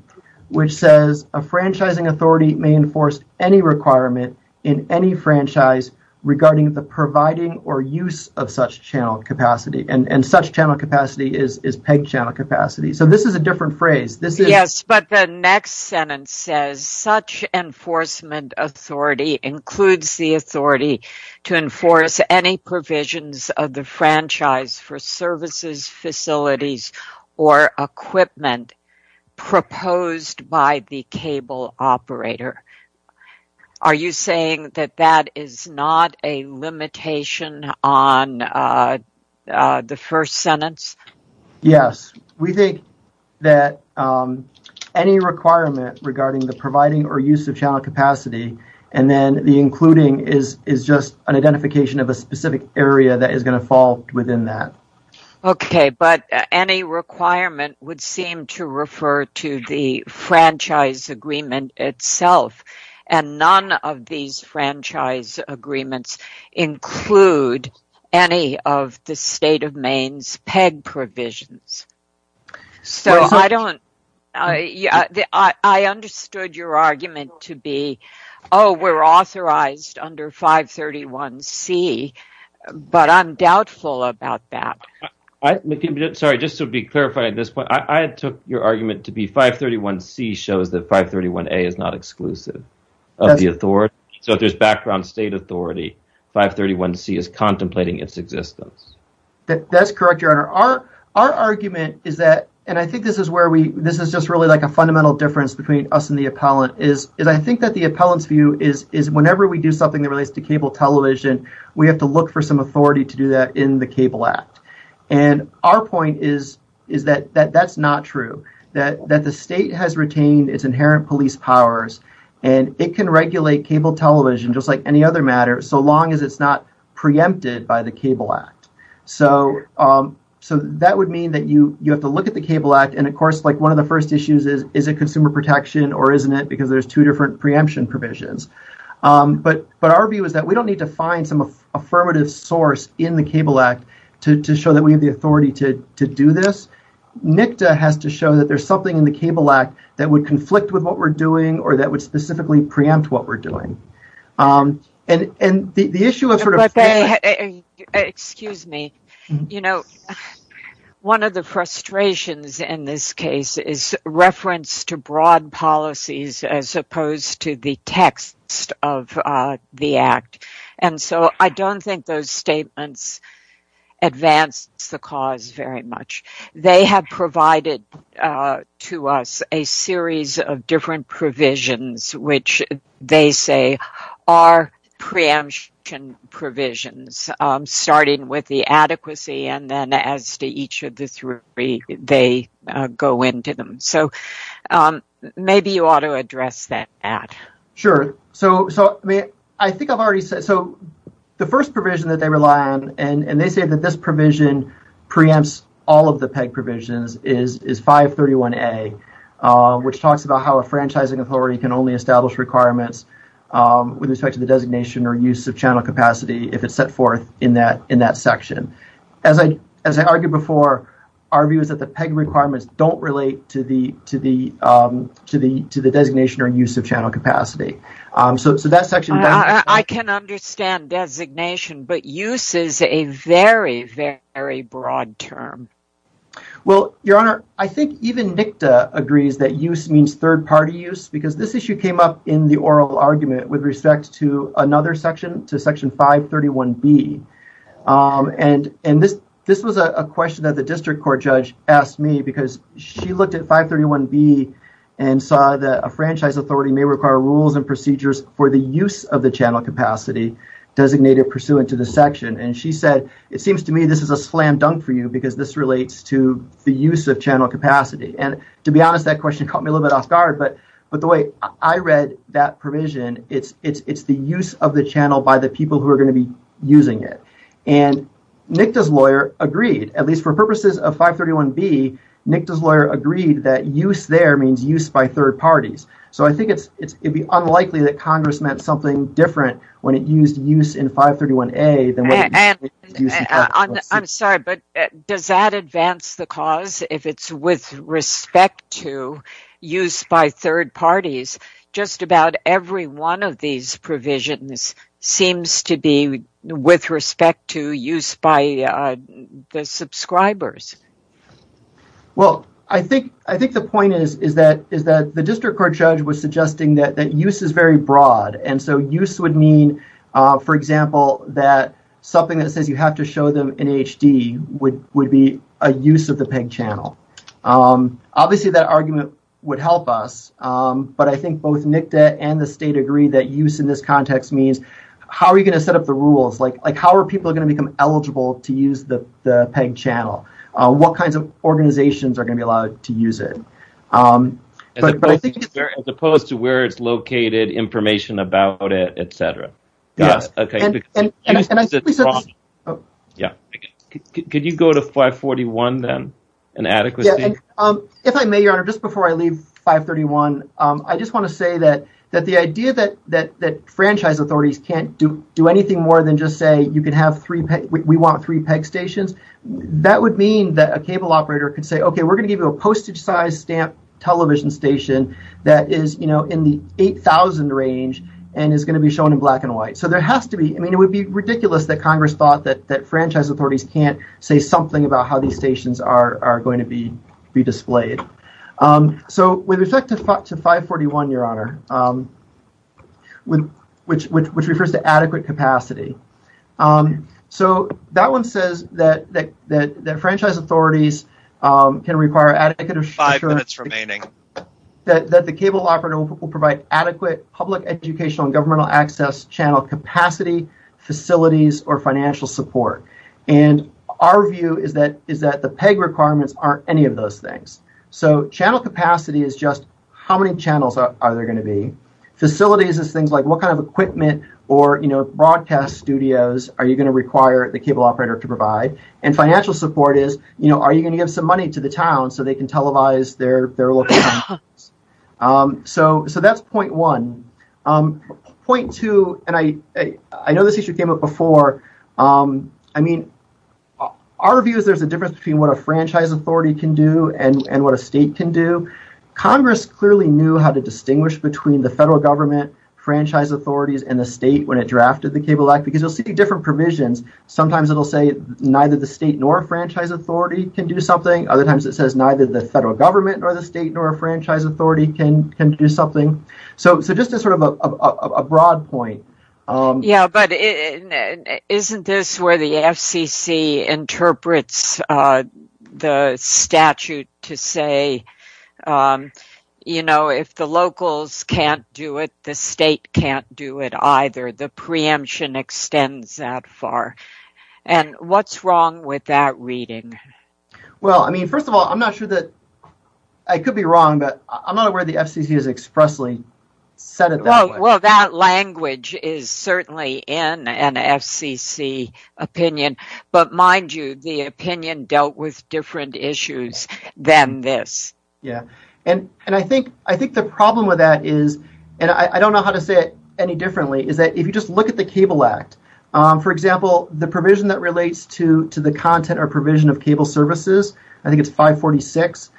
which says a franchising authority may enforce any requirement in any franchise regarding the providing or use of such channel capacity. And such channel capacity is PEG channel capacity. So this is a different phrase. Yes, but the next sentence says such enforcement authority includes the authority to enforce any provisions of the franchise for services, facilities, or equipment proposed by the cable operator. Are you saying that that is not a the first sentence? Yes, we think that any requirement regarding the providing or use of channel capacity, and then the including is just an identification of a specific area that is going to fall within that. Okay, but any requirement would seem to refer to the franchise agreement itself. And none of these franchise agreements include any of the state of Maine's PEG provisions. So I don't I understood your argument to be, oh, we're authorized under 531C, but I'm doubtful about that. Sorry, just to be clarified, I took your argument to be 531C shows that 531A is not exclusive of the authority. So if there's background state authority, 531C is contemplating its existence. That's correct, Your Honor. Our argument is that, and I think this is where we this is just really like a fundamental difference between us and the appellant, is I think that the appellant's view is whenever we do something that relates to cable television, we have to look for some authority to do that in the cable act. And our point is that that's not true. That the state has retained its inherent police powers, and it can regulate cable television just like any other matter, so long as it's not preempted by the cable act. So that would mean that you have to look at the cable act, and of course, one of the first issues is, is it consumer protection or isn't it, because there's two different preemption provisions. But our view is that we don't need to find some affirmative source in the cable act to show that we have the authority to do this. NICTA has to show that there's something in the cable act that would conflict with what we're doing or that would specifically preempt what we're doing. And the issue of sort of... Excuse me. You know, one of the frustrations in this case is reference to broad policies as opposed to the text of the act. And so I don't think those statements advance the cause very much. They have provided to us a series of different provisions which they say are preemption provisions, starting with the adequacy and then as to each of the three they go into them. So maybe you ought to address that, Pat. Sure. So I think I've already said, so the first provision that they rely on, and they say that this provision preempts all of the PEG provisions is 531A, which talks about how a franchising authority can only establish requirements with respect to the designation or use of channel capacity if it's set forth in that section. As I argued before, our view is that the PEG requirements don't relate to the designation or use of channel capacity. So that section... I can understand designation, but use is a very, very broad term. Well, Your Honor, I think even NICTA agrees that use means third-party use because this issue came up in the oral argument with respect to another section, to Section 531B. And this was a question that the district court judge asked me because she looked at 531B and saw that a franchise authority may require rules and procedures for the use of the channel capacity designated pursuant to the section. And she said it seems to me this is a slam dunk for you because this relates to the use of channel capacity. And to be honest, that question caught me a little bit off guard, but the way I read that provision, it's the use of the channel by the people who are going to be using it. And NICTA's lawyer agreed, at least for purposes of 531B, NICTA's lawyer agreed that use there means use by third parties. So I think it would be unlikely that Congress meant something different when it used use in I'm sorry, but does that advance the cause if it's with respect to use by third parties? Just about every one of these provisions seems to be with respect to use by the subscribers. Well, I think the point is that the district court judge was suggesting that use is very broad. And so use would mean, for example, that something that says you have to show them in HD would be a use of the PEG channel. Obviously that argument would help us, but I think both NICTA and the state agree that use in this context means how are you going to set up the rules? Like how are people going to become eligible to use the PEG channel? What kinds of organizations are going to be allowed to use it? As opposed to where it's located, information about it, et cetera. Could you go to 541 then and add it? If I may, Your Honor, just before I leave 531, I just want to say that the idea that franchise authorities can't do anything more than just say we want three PEG stations, that would mean that a cable operator could say, okay, we're going to give you a postage size stamp television station that is in the 8,000 range and is going to be shown in black and white. It would be ridiculous that Congress thought that franchise authorities can't say something about how these stations are going to be displayed. With respect to 541, Your Honor, which refers to adequate capacity, that one says that franchise authorities can require adequate... Five minutes remaining. ...that the cable operator will provide adequate public educational and governmental access channel capacity, facilities, or financial support. And our view is that the PEG requirements aren't any of those things. So channel capacity is just how many channels are there going to be? Facilities is things like what kind of equipment or broadcast studios are you going to require the cable operator to provide? And financial support is are you going to give some money to the town so they can televise their local... So that's point one. Point two, and I know this issue came up before. I mean, our view is there's a difference between what a franchise authority can do and what a state can do. Congress clearly knew how to distinguish between the federal government franchise authorities and the state when it drafted the Cable Act because you'll see different provisions. Sometimes it'll say neither the state nor franchise authority can do something. Other times it says neither the federal government nor the state nor a franchise authority can do something. So this is sort of a broad point. Yeah, but isn't this where the FCC interprets the statute to say if the locals can't do it, the state can't do it either. The preemption extends that far. And what's wrong with that reading? Well, I mean, first of all, I'm not sure that... I could be wrong, but I'm not aware the FCC has expressly said it that way. Well, that language is certainly in an FCC opinion, but mind you, the opinion dealt with different issues than this. Yeah, and I think the problem with that is, and I don't know how to say it any differently, is that if you just look at the provision that relates to the content or provision of cable services, I think it's 546,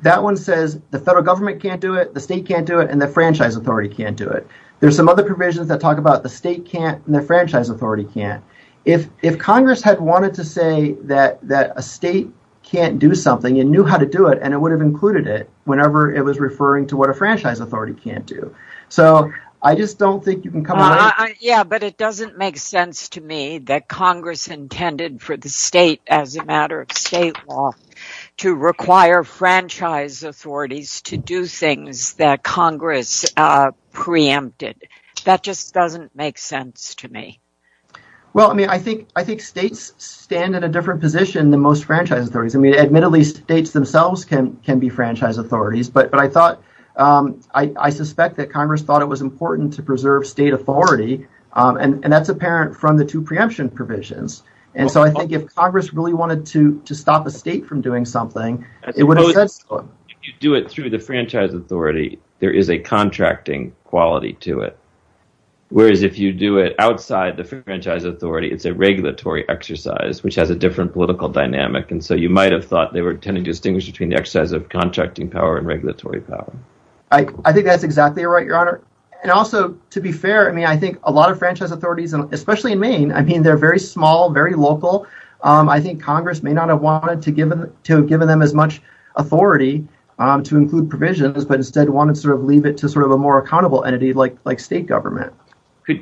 that one says the federal government can't do it, the state can't do it, and the franchise authority can't do it. There's some other provisions that talk about the state can't and the franchise authority can't. If Congress had wanted to say that a state can't do something and knew how to do it, and it would have included it whenever it was referring to what a franchise authority can't do. So I just don't think you can come up with... Yeah, but it doesn't make sense that Congress intended for the state, as a matter of state law, to require franchise authorities to do things that Congress preempted. That just doesn't make sense to me. Well, I mean, I think states stand in a different position than most franchise authorities. I mean, admittedly, states themselves can be franchise authorities, but I thought... I suspect that Congress thought it was important to preserve state authority, and that's apparent from the two preemption provisions. And so I think if Congress really wanted to stop a state from doing something, it would have said so. If you do it through the franchise authority, there is a contracting quality to it, whereas if you do it outside the franchise authority, it's a regulatory exercise, which has a different political dynamic, and so you might have thought they were trying to distinguish between the exercise of contracting power and regulatory power. I think that's exactly right, Your Honor. And also, to be fair, I mean, I think a lot of franchise authorities, especially in Maine, I mean, they're very small, very local. I think Congress may not have wanted to have given them as much authority to include provisions, but instead wanted to sort of leave it to sort of a more accountable entity like state government.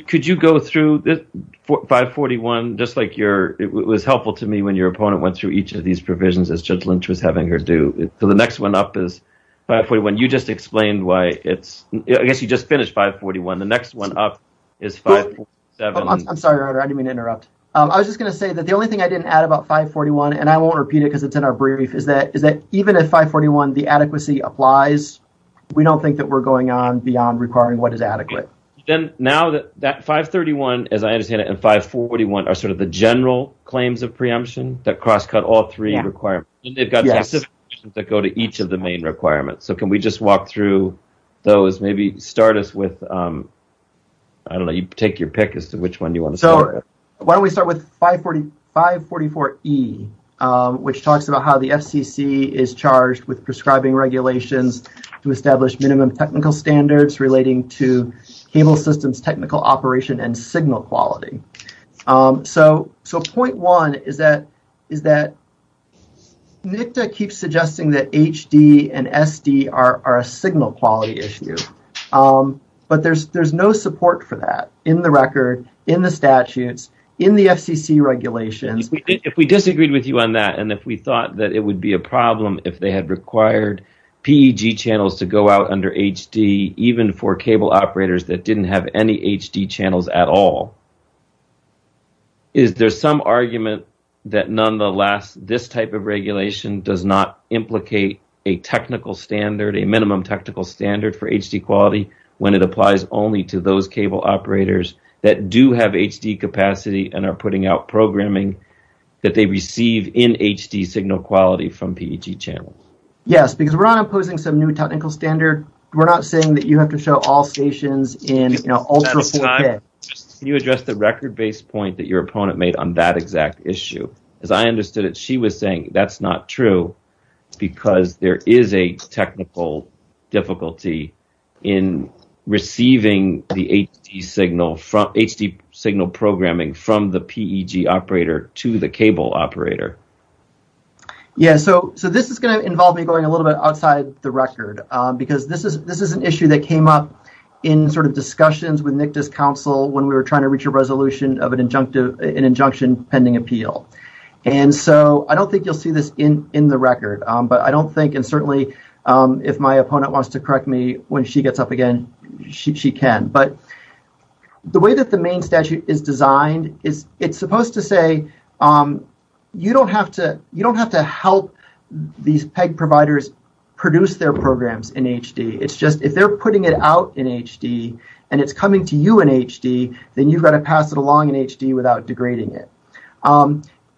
Could you go through this 541, just like your... It was helpful to me when your opponent went through each of these provisions, as Judge Lynch was having her do. So the next one up is 541. When you just explained why it's... I guess you just finished 541. The next one up is 547. I'm sorry, Your Honor. I didn't mean to interrupt. I was just going to say that the only thing I didn't add about 541, and I won't repeat it because it's in our brief, is that even if 541, the adequacy applies, we don't think that we're going on beyond requiring what is adequate. Now that 531, as I understand it, and 541 are sort of the general claims of preemption that crosscut all three requirements. They've got specific requirements that go to each of the main requirements. So can we just walk through those? Maybe start us with... I don't know. You take your pick as to which one you want to start with. Why don't we start with 544E, which talks about how the FCC is charged with prescribing regulations to establish minimum technical standards relating to cable systems technical operation and signal quality. So point one is that NICTA keeps suggesting that HD and SD are signal quality issues. But there's no support for that in the record, in the statutes, in the FCC regulations. If we disagreed with you on that, and if we thought that it would be a problem if they had required PEG channels to go out under HD, even for cable operators that didn't have any HD channels at all, is there some argument that, nonetheless, this type of regulation does not implicate a technical standard, a minimum technical standard for HD quality when it applies only to those cable operators that do have HD capacity and are putting out programming that they receive in HD signal quality from PEG channels? Yes, because we're not imposing some new technical standard. We're not saying that you have to show all stations in ultra-full... Can you address the record-based point that your opponent made on that exact issue? Because I understood that she was saying that's not true because there is a technical difficulty in receiving the HD signal from... HD signal programming from the PEG operator to the cable operator. Yeah, so this is going to involve me going a little bit outside the record because this is an issue that came up in sort of discussions with NICTA's counsel when we were trying to reach a resolution of an injunction pending appeal. And so I don't think you'll see this in the record, but I don't think, and certainly if my opponent wants to correct me when she gets up again, she can. But the way that the main statute is designed, it's supposed to say you don't have to help these PEG providers produce their programs in HD. It's just if they're putting it out in HD, then you've got to pass it along in HD without degrading it.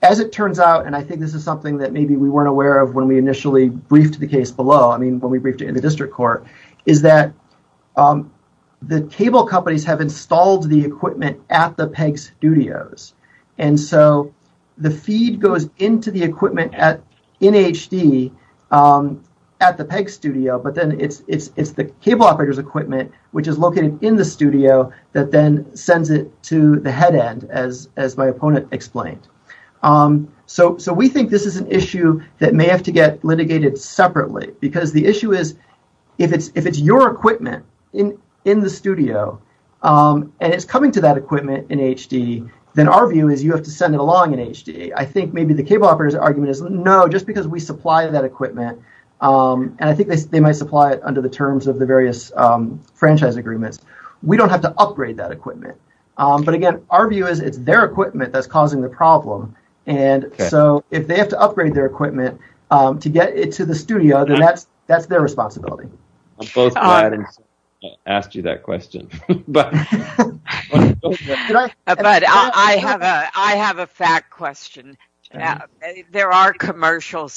As it turns out, and I think this is something that maybe we weren't aware of when we initially briefed the case below, I mean when we briefed it in the district court, is that the cable companies have installed the equipment at the PEG studios. And so the feed goes into the equipment in HD at the PEG studio, but then it's the cable operator's equipment, which is located in the studio, that then sends it to the head end, as my opponent explained. So we think this is an issue that may have to get litigated separately, because the issue is if it's your equipment in the studio, and it's coming to that equipment in HD, then our view is you have to send it along in HD. I think maybe the cable operator's argument is no, just because we supply that equipment, and I think they might supply it under the terms of the various franchise agreements, we don't have to upgrade that equipment. But again, our view is it's their equipment that's causing the problem, and so if they have to upgrade their equipment to get it to the studio, then that's their responsibility. I'm both glad I asked you that question. I have a fact question. There are commercial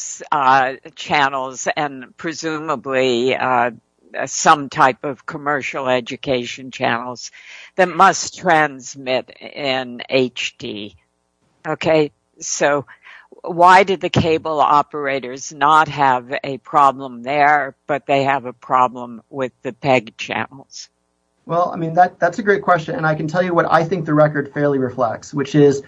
channels and presumably some type of commercial education channels that must transmit in HD. Why did the cable operators not have a problem there, but they have a problem with the PEG channels? That's a great question, and I can tell you what I think the record fairly reflects, which is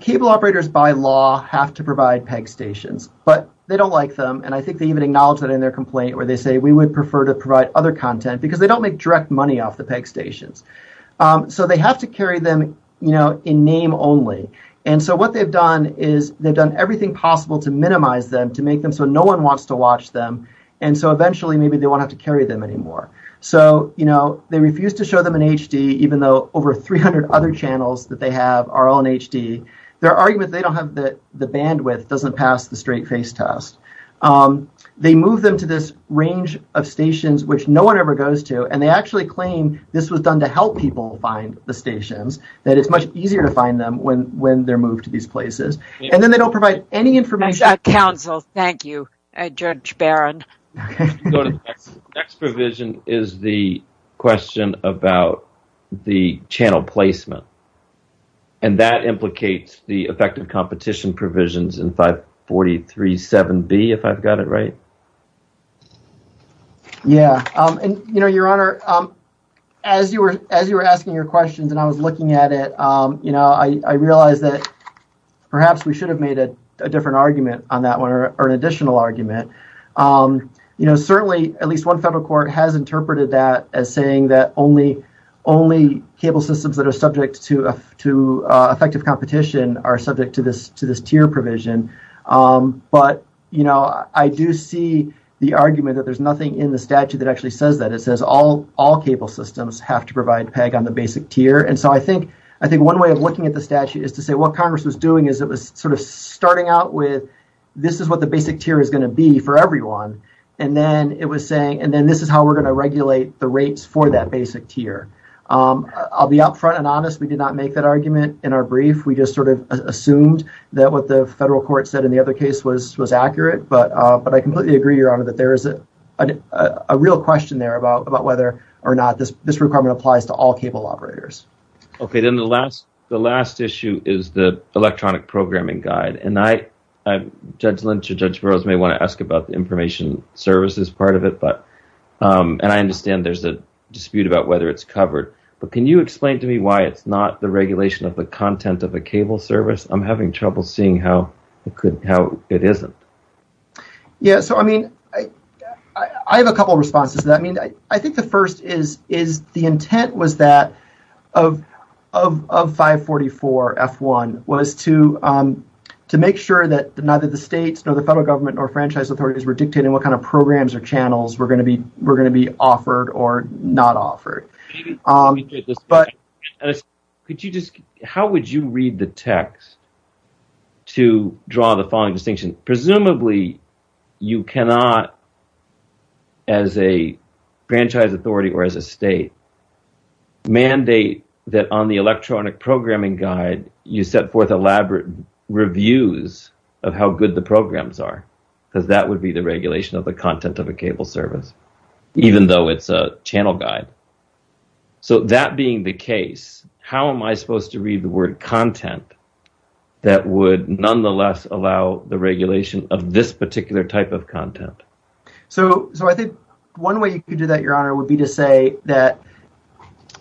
cable operators by law have to provide PEG stations, but they don't like them, and I think they even acknowledge that in their complaint where they say, we would prefer to provide other content, because they don't make direct money off the PEG stations. So they have to carry them in name only, and so what they've done is they've done everything possible to minimize them, to make them so no one wants to watch them, and so eventually maybe they won't have to carry them anymore. So they refuse to show them in HD, even though over 300 other channels that they have are all in HD. Their argument is they don't have the bandwidth, doesn't pass the straight face test. They move them to this range of stations which no one ever goes to, and they actually claim this was done to help people find the stations, that it's much easier to find them when they're moved to these places, and then they don't provide any information. Next provision is the question about the channel placement, and that implicates the effective competition provisions in 543.7B, if I've got it right. Yeah, and your Honor, as you were asking your questions and I was looking at it, I realized that perhaps we should have made a different argument on that one, or an additional argument. Certainly at least one federal court has interpreted that as saying that only cable systems that are subject to effective competition are subject to this tier provision, but I do see the argument that there's nothing in the statute that actually says that. It says all cable systems have to provide PEG on the basic tier, and so I think one way of looking at the statute is to say what Congress was doing is it was sort of starting out with this is what the basic tier is going to be for everyone, and then this is how we're going to regulate the I'll be up front and honest. We did not make that argument in our brief. We just sort of assumed that what the federal court said in the other case was accurate, but I completely agree, your Honor, that there is a real question there about whether or not this requirement applies to all cable operators. Okay, then the last issue is the electronic programming guide, and Judge Lynch or Judge Burroughs may want to ask about the information services part of it, and I understand there's a part of it that's covered, but can you explain to me why it's not the regulation of the content of a cable service? I'm having trouble seeing how it isn't. Yeah, so I mean, I have a couple responses to that. I mean, I think the first is the intent was that of 544F1 was to make sure that neither the states nor the federal government nor franchise authorities were dictating what kind of programs or channels were going to be offered or not offered. How would you read the text to draw the following distinction? Presumably, you cannot, as a franchise authority or as a state, mandate that on the electronic programming guide, you set forth elaborate reviews of how good the programs are, because that would be the regulation of the content of a cable service, even though it's a channel guide. So that being the case, how am I supposed to read the word content that would nonetheless allow the regulation of this particular type of content? So I think one way you could do that, Your Honor, would be to say that,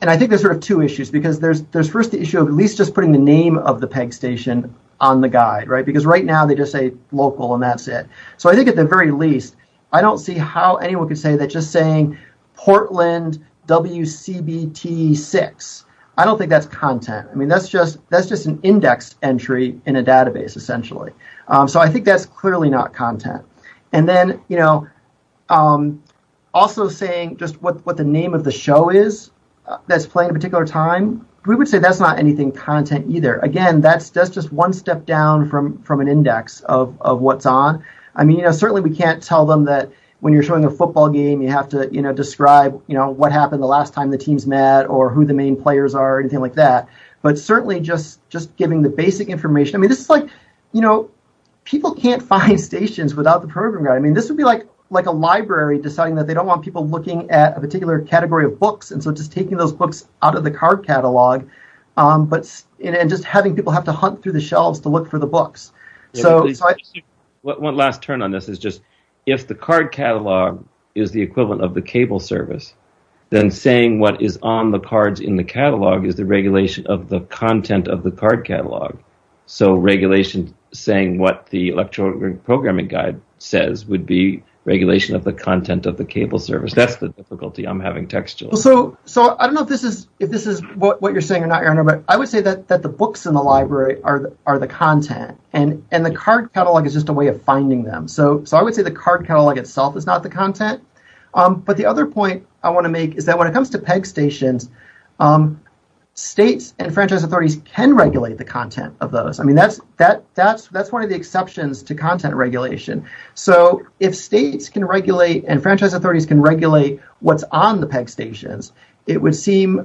and I think there's sort of two issues, because there's first the issue of at least just putting the name of the PEG station on the guide, right, because right now they just say local and that's it. So I think at the very least, I don't see how anyone could say that just saying Portland WCBT 6. I don't think that's content. I mean, that's just an index entry in a database, essentially. So I think that's clearly not content. And then, you know, also saying just what the name of the show is that's playing a particular time, we would say that's not anything content either. Again, that's just one step down from an index of what's on. I mean, certainly we can't tell them that when you're showing a football game, you have to describe what happened the last time the teams met or who the main players are or anything like that, but certainly just giving the basic information. I mean, this is like, you know, people can't find stations without the program guide. I mean, this would be like a library deciding that they don't want people looking at a particular category of books, and so just taking those books out of the card catalog and just having people have to hunt through the shelves to look for the books. One last turn on this is just if the card catalog is the equivalent of the cable service, then saying what is on the cards in the catalog is the regulation of the content of the card catalog. So regulation saying what the electronic programming guide says would be regulation of the content of the cable service. That's the difficulty I'm having textually. So I don't know if this is what you're saying or not, Karen, but I would say that the books in the library are the content, and the card catalog is just a way of finding them. So I would say the card catalog itself is not the content, but the other point I want to make is that when it comes to PEG stations, states and franchise authorities can regulate the content of those. I mean, that's one of the exceptions to content regulation. So if states can regulate and franchise authorities can regulate what's on the PEG stations, it would seem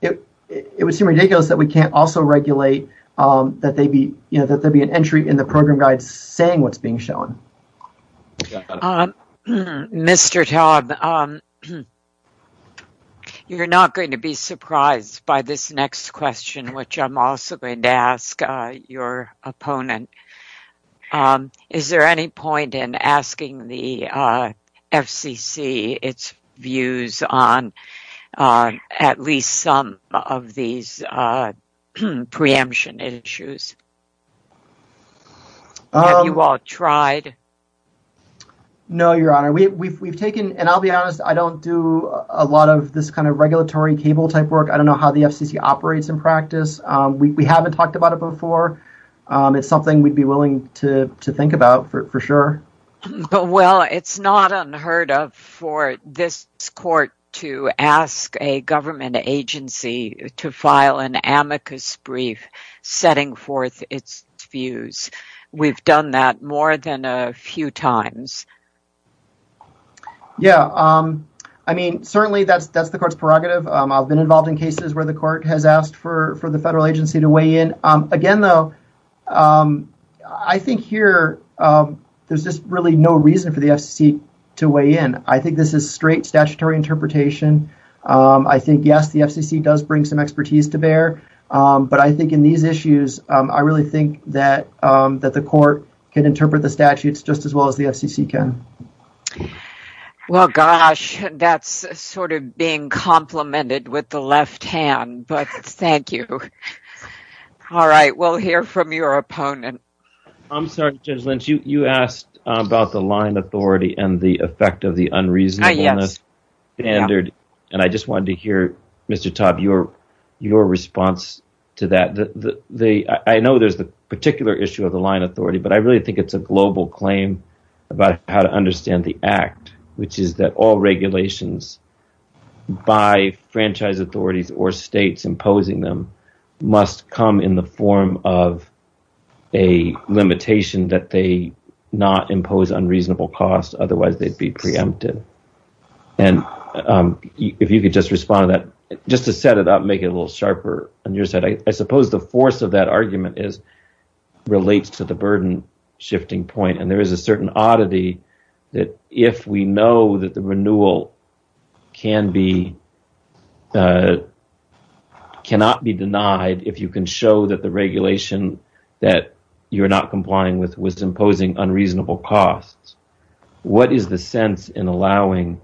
ridiculous that we can't also regulate that there would be an entry in the program guide saying what's being shown. Mr. Todd, you're not going to be surprised by this next question, which I'm also going to ask your opponent. Is there any point in asking the FCC its views on at least some of these preemption issues? Have you all tried? No, Your Honor. We've taken, and I'll be honest, I don't do a lot of this kind of regulatory table type work. I don't know how the FCC operates in practice. We haven't talked about it before. It's something we'd be willing to think about for sure. Well, it's not unheard of for this court to ask a government agency to file an amicus brief setting forth its views. We've done that more than a few times. Yeah. I mean, certainly that's the court's prerogative. I've been involved in cases where the court has asked for the federal agency to weigh in. Again, though, I think here there's just really no reason for the FCC to weigh in. I think this is straight statutory interpretation. I think, yes, the FCC does bring some expertise to bear, but I think in these issues, I really think that the court can interpret the statutes just as well as the FCC can. Well, gosh, that's sort of being complimented with the left hand, but thank you. All right. We'll hear from your opponent. I'm sorry, Judge Lynch. You asked about the line authority and the effect of the unreasonableness standard, and I just wanted to hear, Mr. Todd, your response to that. I know there's a particular issue of the line authority, but I really think it's a global claim about how to understand the act, which is that all regulations by franchise authorities or states imposing them must come in the form of a regulation that does not impose unreasonable costs, otherwise they'd be preempted. If you could just respond to that. Just to set it up and make it a little sharper on your side, I suppose the force of that argument relates to the burden shifting point, and there is a certain oddity that if we know that the renewal cannot be denied, if you can show that the regulation that you're not complying with was imposing unreasonable costs, what is the sense in allowing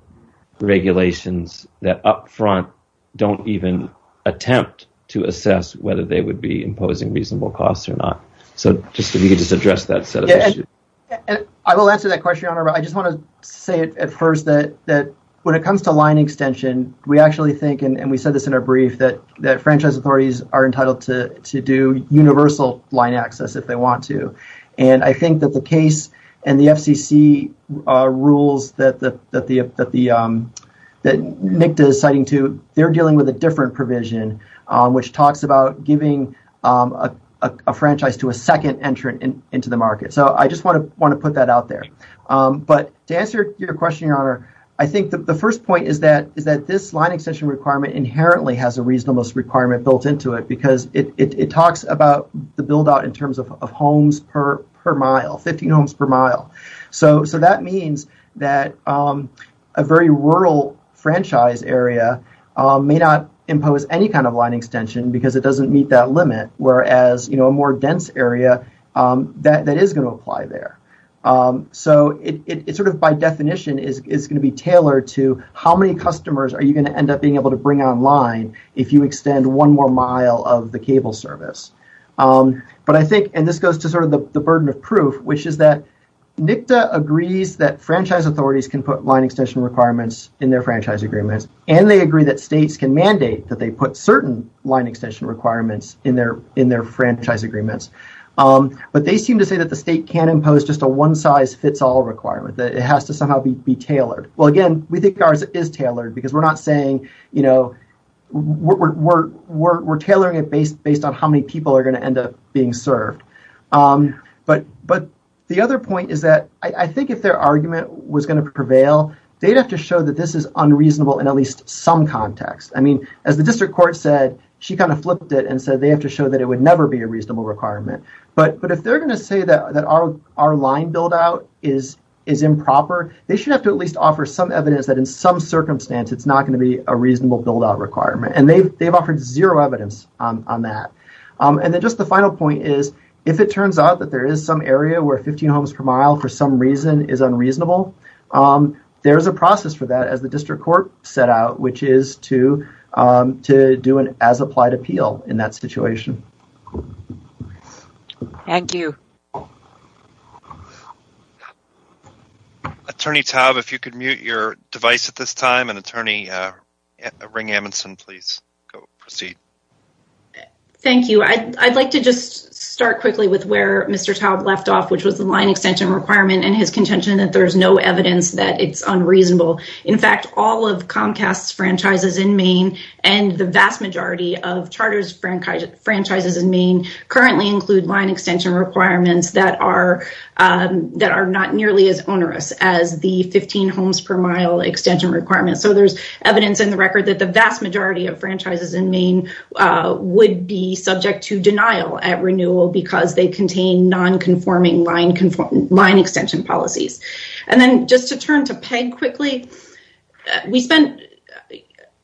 regulations that up front don't even attempt to assess whether they would be imposing reasonable costs or not? I will answer that question. I just want to say at first that when it comes to line extension, we actually think and we said this in our brief, that franchise authorities are entitled to do universal line access if they want to. I think that the case and the FCC rules that NICDA is citing, they're dealing with a different provision which talks about giving a franchise to a second entrant into the market. I just want to put that out there. To answer your question, Your Honor, I think the first point is that this line extension requirement inherently has a reasonable requirement built into it because it talks about the build out in terms of homes per mile, 50 homes per mile. So that means that a very rural franchise area may not impose any kind of line extension because it doesn't meet that limit whereas a more dense area, that is going to apply there. So it sort of by definition is going to be tailored to how many customers are you going to end up being able to bring online if you extend one more mile of the cable service. But I think, and this goes to sort of the burden of proof, which is that NICDA agrees that franchise authorities can put line extension requirements in their franchise agreements and they agree that states can mandate that they put certain line extension requirements in their franchise agreements but they seem to say that the state can't impose just a one size fits all requirement that it has to somehow be tailored. Well again, we think ours is tailored because we're not saying, you know, we're tailoring it based on how many people are going to end up being served. But the other point is that I think if their argument was going to prevail, they'd have to show that this is unreasonable in at least some context. I mean, as the district court said, she kind of flipped it and said they have to show that it would never be a reasonable requirement. But if they're going to say that our line build out is improper, they should have to at least offer some evidence that in some circumstance it's not going to be a reasonable build out requirement and they've offered zero evidence on that. And then just the final point is, if it turns out that there is some area where 15 homes per mile for some reason is unreasonable, there's a process for that as the district court set out, which is to do an as applied appeal in that situation. Thank you. Attorney Taub, if you could mute your device at this time, and Attorney Ring-Amundson, please proceed. Thank you. I'd like to just start quickly with where Mr. Taub left off, which was the line extension requirement and his contention that there's no evidence that it's unreasonable. In fact, all of Comcast's franchises in Maine and the vast majority of Charter's franchises in Maine currently include line extension requirements that are not nearly as onerous as the 15 homes per mile extension requirements. So there's evidence in the record that the vast majority of franchises in Maine would be subject to denial at renewal because they contain non-conforming line extension policies. And then just to turn to Peg quickly, we spent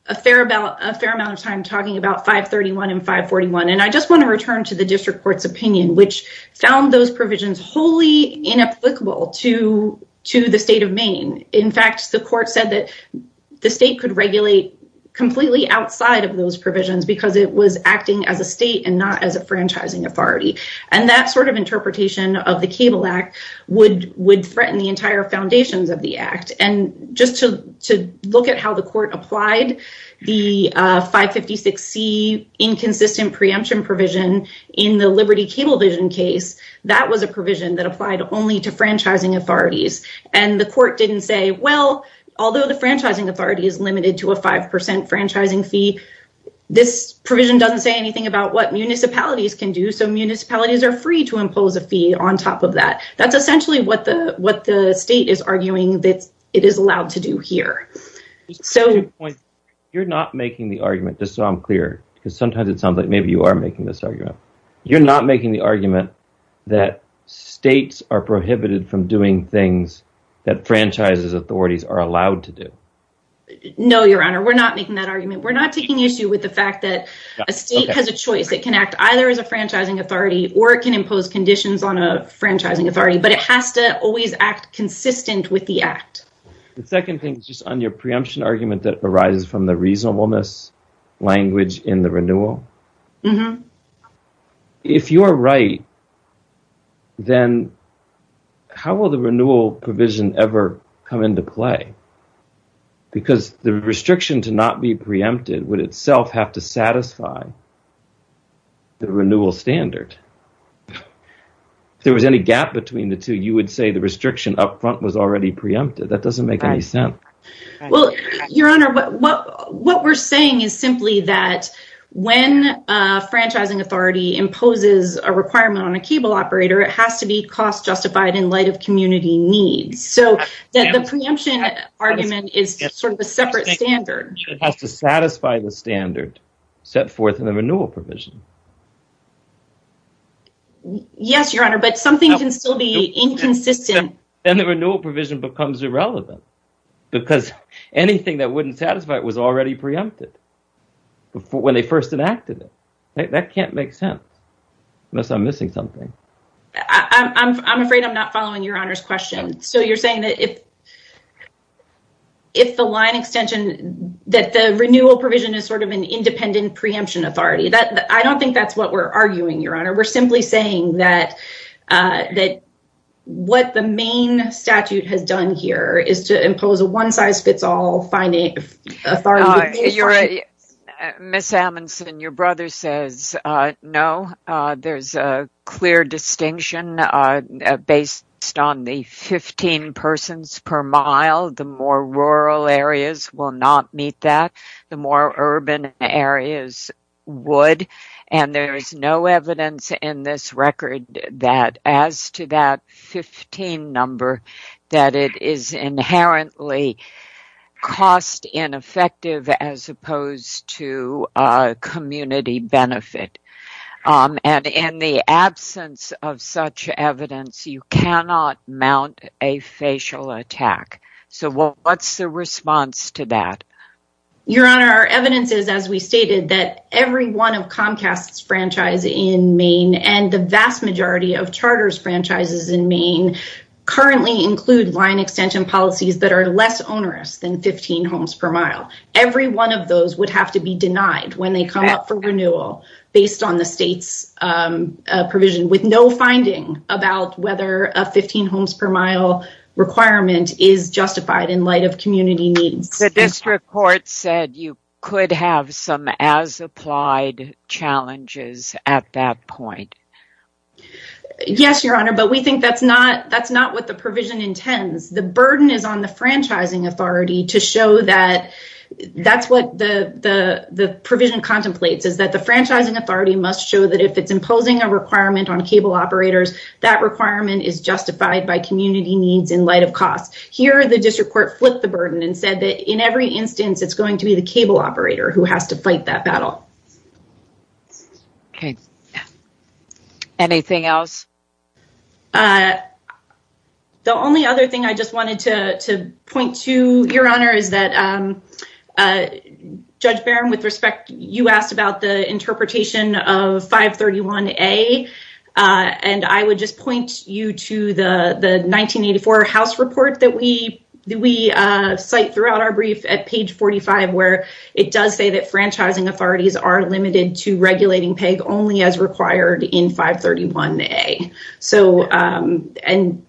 a fair amount of time talking about 531 and 541, and I just want to return to the district court's opinion, which found those provisions wholly inapplicable to the state of Maine. In fact, the court said that the state could regulate completely outside of those provisions because it was acting as a state and not as a franchising authority. And that sort of interpretation of the Cable Act would threaten the entire foundations of the act. And just to look at how the court applied the existing preemption provision in the Liberty Cablevision case, that was a provision that applied only to franchising authorities. And the court didn't say, well, although the franchising authority is limited to a 5% franchising fee, this provision doesn't say anything about what municipalities can do, so municipalities are free to impose a fee on top of that. That's essentially what the state is arguing that it is allowed to do here. You're not making the argument, just so I'm clear, because sometimes it sounds like maybe you are making this argument. You're not making the argument that states are prohibited from doing things that franchises authorities are allowed to do. No, Your Honor, we're not making that argument. We're not taking issue with the fact that a state has a choice. It can act either as a franchising authority or it can impose conditions on a franchising authority, but it has to always act consistent with the act. The second thing is just on your preemption argument that arises from the reasonableness language in the renewal. If you're right, then how will the renewal provision ever come into play? Because the restriction to not be preempted would itself have to satisfy the renewal standard. If there was any gap between the two, you would say the restriction up front was already preempted. That doesn't make any sense. Your Honor, what we're saying is simply that when a franchising authority imposes a requirement on a cable operator, it has to be cost justified in light of community needs. The preemption argument is sort of a separate standard. It has to satisfy the standard set forth in the renewal provision. Yes, Your Honor, but something can still be inconsistent. Then the renewal provision becomes irrelevant because anything that wouldn't satisfy it was already preempted when they first enacted it. That can't make sense unless I'm missing something. I'm afraid I'm not following Your Honor's question. You're saying that if the line extension, that the renewal provision is sort of an independent preemption authority. I don't think that's what we're arguing, Your Honor. We're simply saying that what the main statute has done here is to impose a one size fits all. Ms. Amundson, your brother says no. There's a clear distinction based on the 15 persons per mile. The more rural areas will not meet that. The more urban areas would. There is no evidence in this record that as to that 15 number, that it is inherently cost ineffective as opposed to community benefit. In the absence of such evidence, you cannot mount a facial attack. What's the response to that? Your Honor, our evidence is, as we stated, that every one of Comcast's franchise in Maine and the vast majority of Charter's franchises in Maine currently include line extension policies that are less onerous than 15 homes per mile. Every one of those would have to be denied when they come up for renewal based on the state's provision with no finding about whether a 15 homes per mile requirement is justified in light of community needs. You could have some as applied challenges at that point. Yes, Your Honor, but we think that's not what the provision intends. The burden is on the franchising authority to show that that's what the provision contemplates is that the franchising authority must show that if it's imposing a requirement on cable operators, that requirement is justified by community needs in light of cost. Here, the district court flipped the burden and said that in every instance it's going to be the cable operator who has to fight that battle. Okay. Anything else? The only other thing I just wanted to point to, Your Honor, is that Judge Barron, with respect, you asked about the interpretation of 531A, and I would just point you to the 1984 House report that we cite throughout our brief at page 45 where it does say that franchising authorities are limited to regulating PEG only as required in 531A.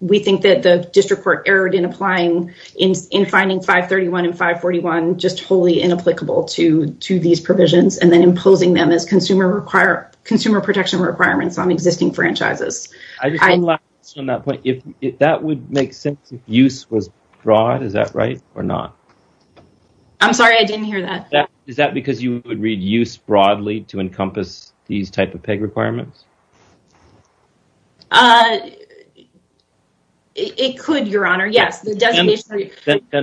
We think that the district court erred in finding 531 and 541 just wholly inapplicable to these provisions and then imposing them as consumer protection requirements on existing franchises. I just have one last question on that point. If that would make sense if use was broad, is that right or not? I'm sorry, I didn't hear that. Is that because you would read use broadly to encompass these type of PEG requirements? It could, Your Honor, yes. Then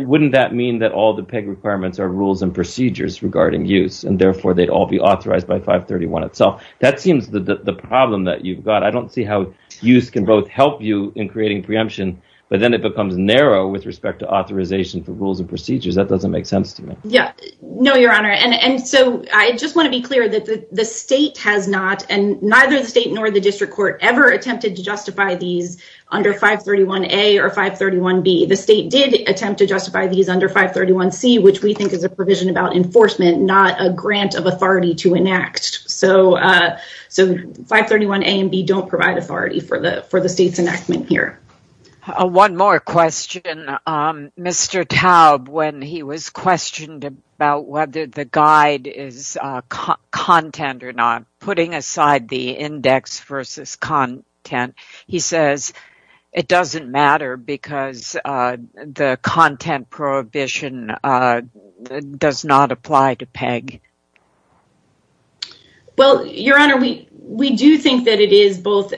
wouldn't that mean that all the PEG requirements are rules and procedures regarding use, and therefore they'd all be authorized by 531 itself? That seems the problem that you've got. I don't see how use can both help you in creating preemption, but then it becomes narrow with respect to authorization for rules and procedures. That doesn't make sense to me. I just want to be clear that the state has not, and neither the state nor the district court ever attempted to justify these under 531A or 531B. The state did attempt to justify these under 531C, which we think is a provision about enforcement, not a grant of authority. So 531A and 531B don't provide authority for the state's enactment here. One more question. Mr. Taub, when he was questioned about whether the guide is content or not, putting aside the index versus content, he says it doesn't matter because the content prohibition does not apply to PEG. Well, Your Honor, we do think that it is both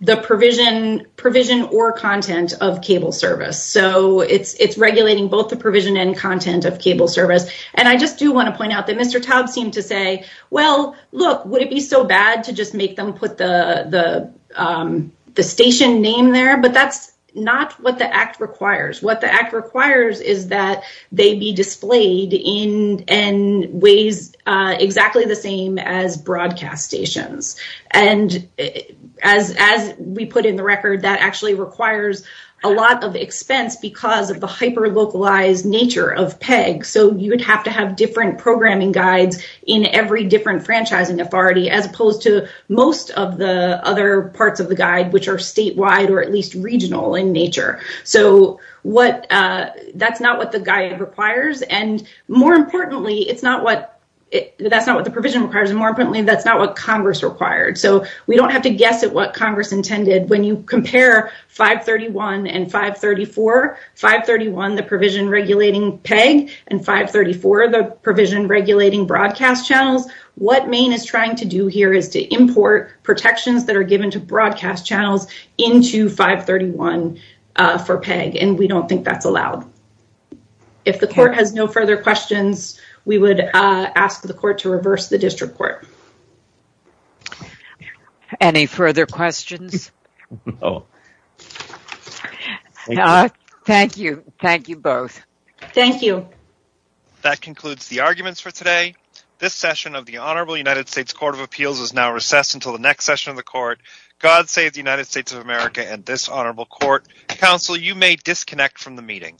the provision or content of cable service. So it's regulating both the provision and content of cable service. And I just do want to point out that Mr. Taub seemed to say, well, look, would it be so bad to just make them put the station name there? But that's not what the Act requires. What the Act requires is that they be displayed in ways exactly the same as broadcast stations. As we put in the record, that actually requires a lot of expense because of the hyper-localized nature of PEG. So you would have to have different programming guides in every different franchising authority, as opposed to most of the other parts of the guide, which are statewide or at least regional in nature. So that's not what the guide requires. And more importantly, that's not what the provision requires. More importantly, that's not what Congress required. So we don't have to guess at what Congress intended. When you compare 531 and 534, 531, the provision regulating PEG, and 534, the provision regulating broadcast channels, what Maine is trying to do here is to import protections that are given to broadcast channels into 531 for PEG, and we don't think that's allowed. If the court has no further questions, we would ask the court to reverse the district court. Any further questions? Thank you. Thank you both. Thank you. That concludes the arguments for today. This session of the Honorable United States Court of Appeals is now recessed until the next session of the court. God save the United States of America and this Honorable Court. Counsel, you may disconnect from the meeting.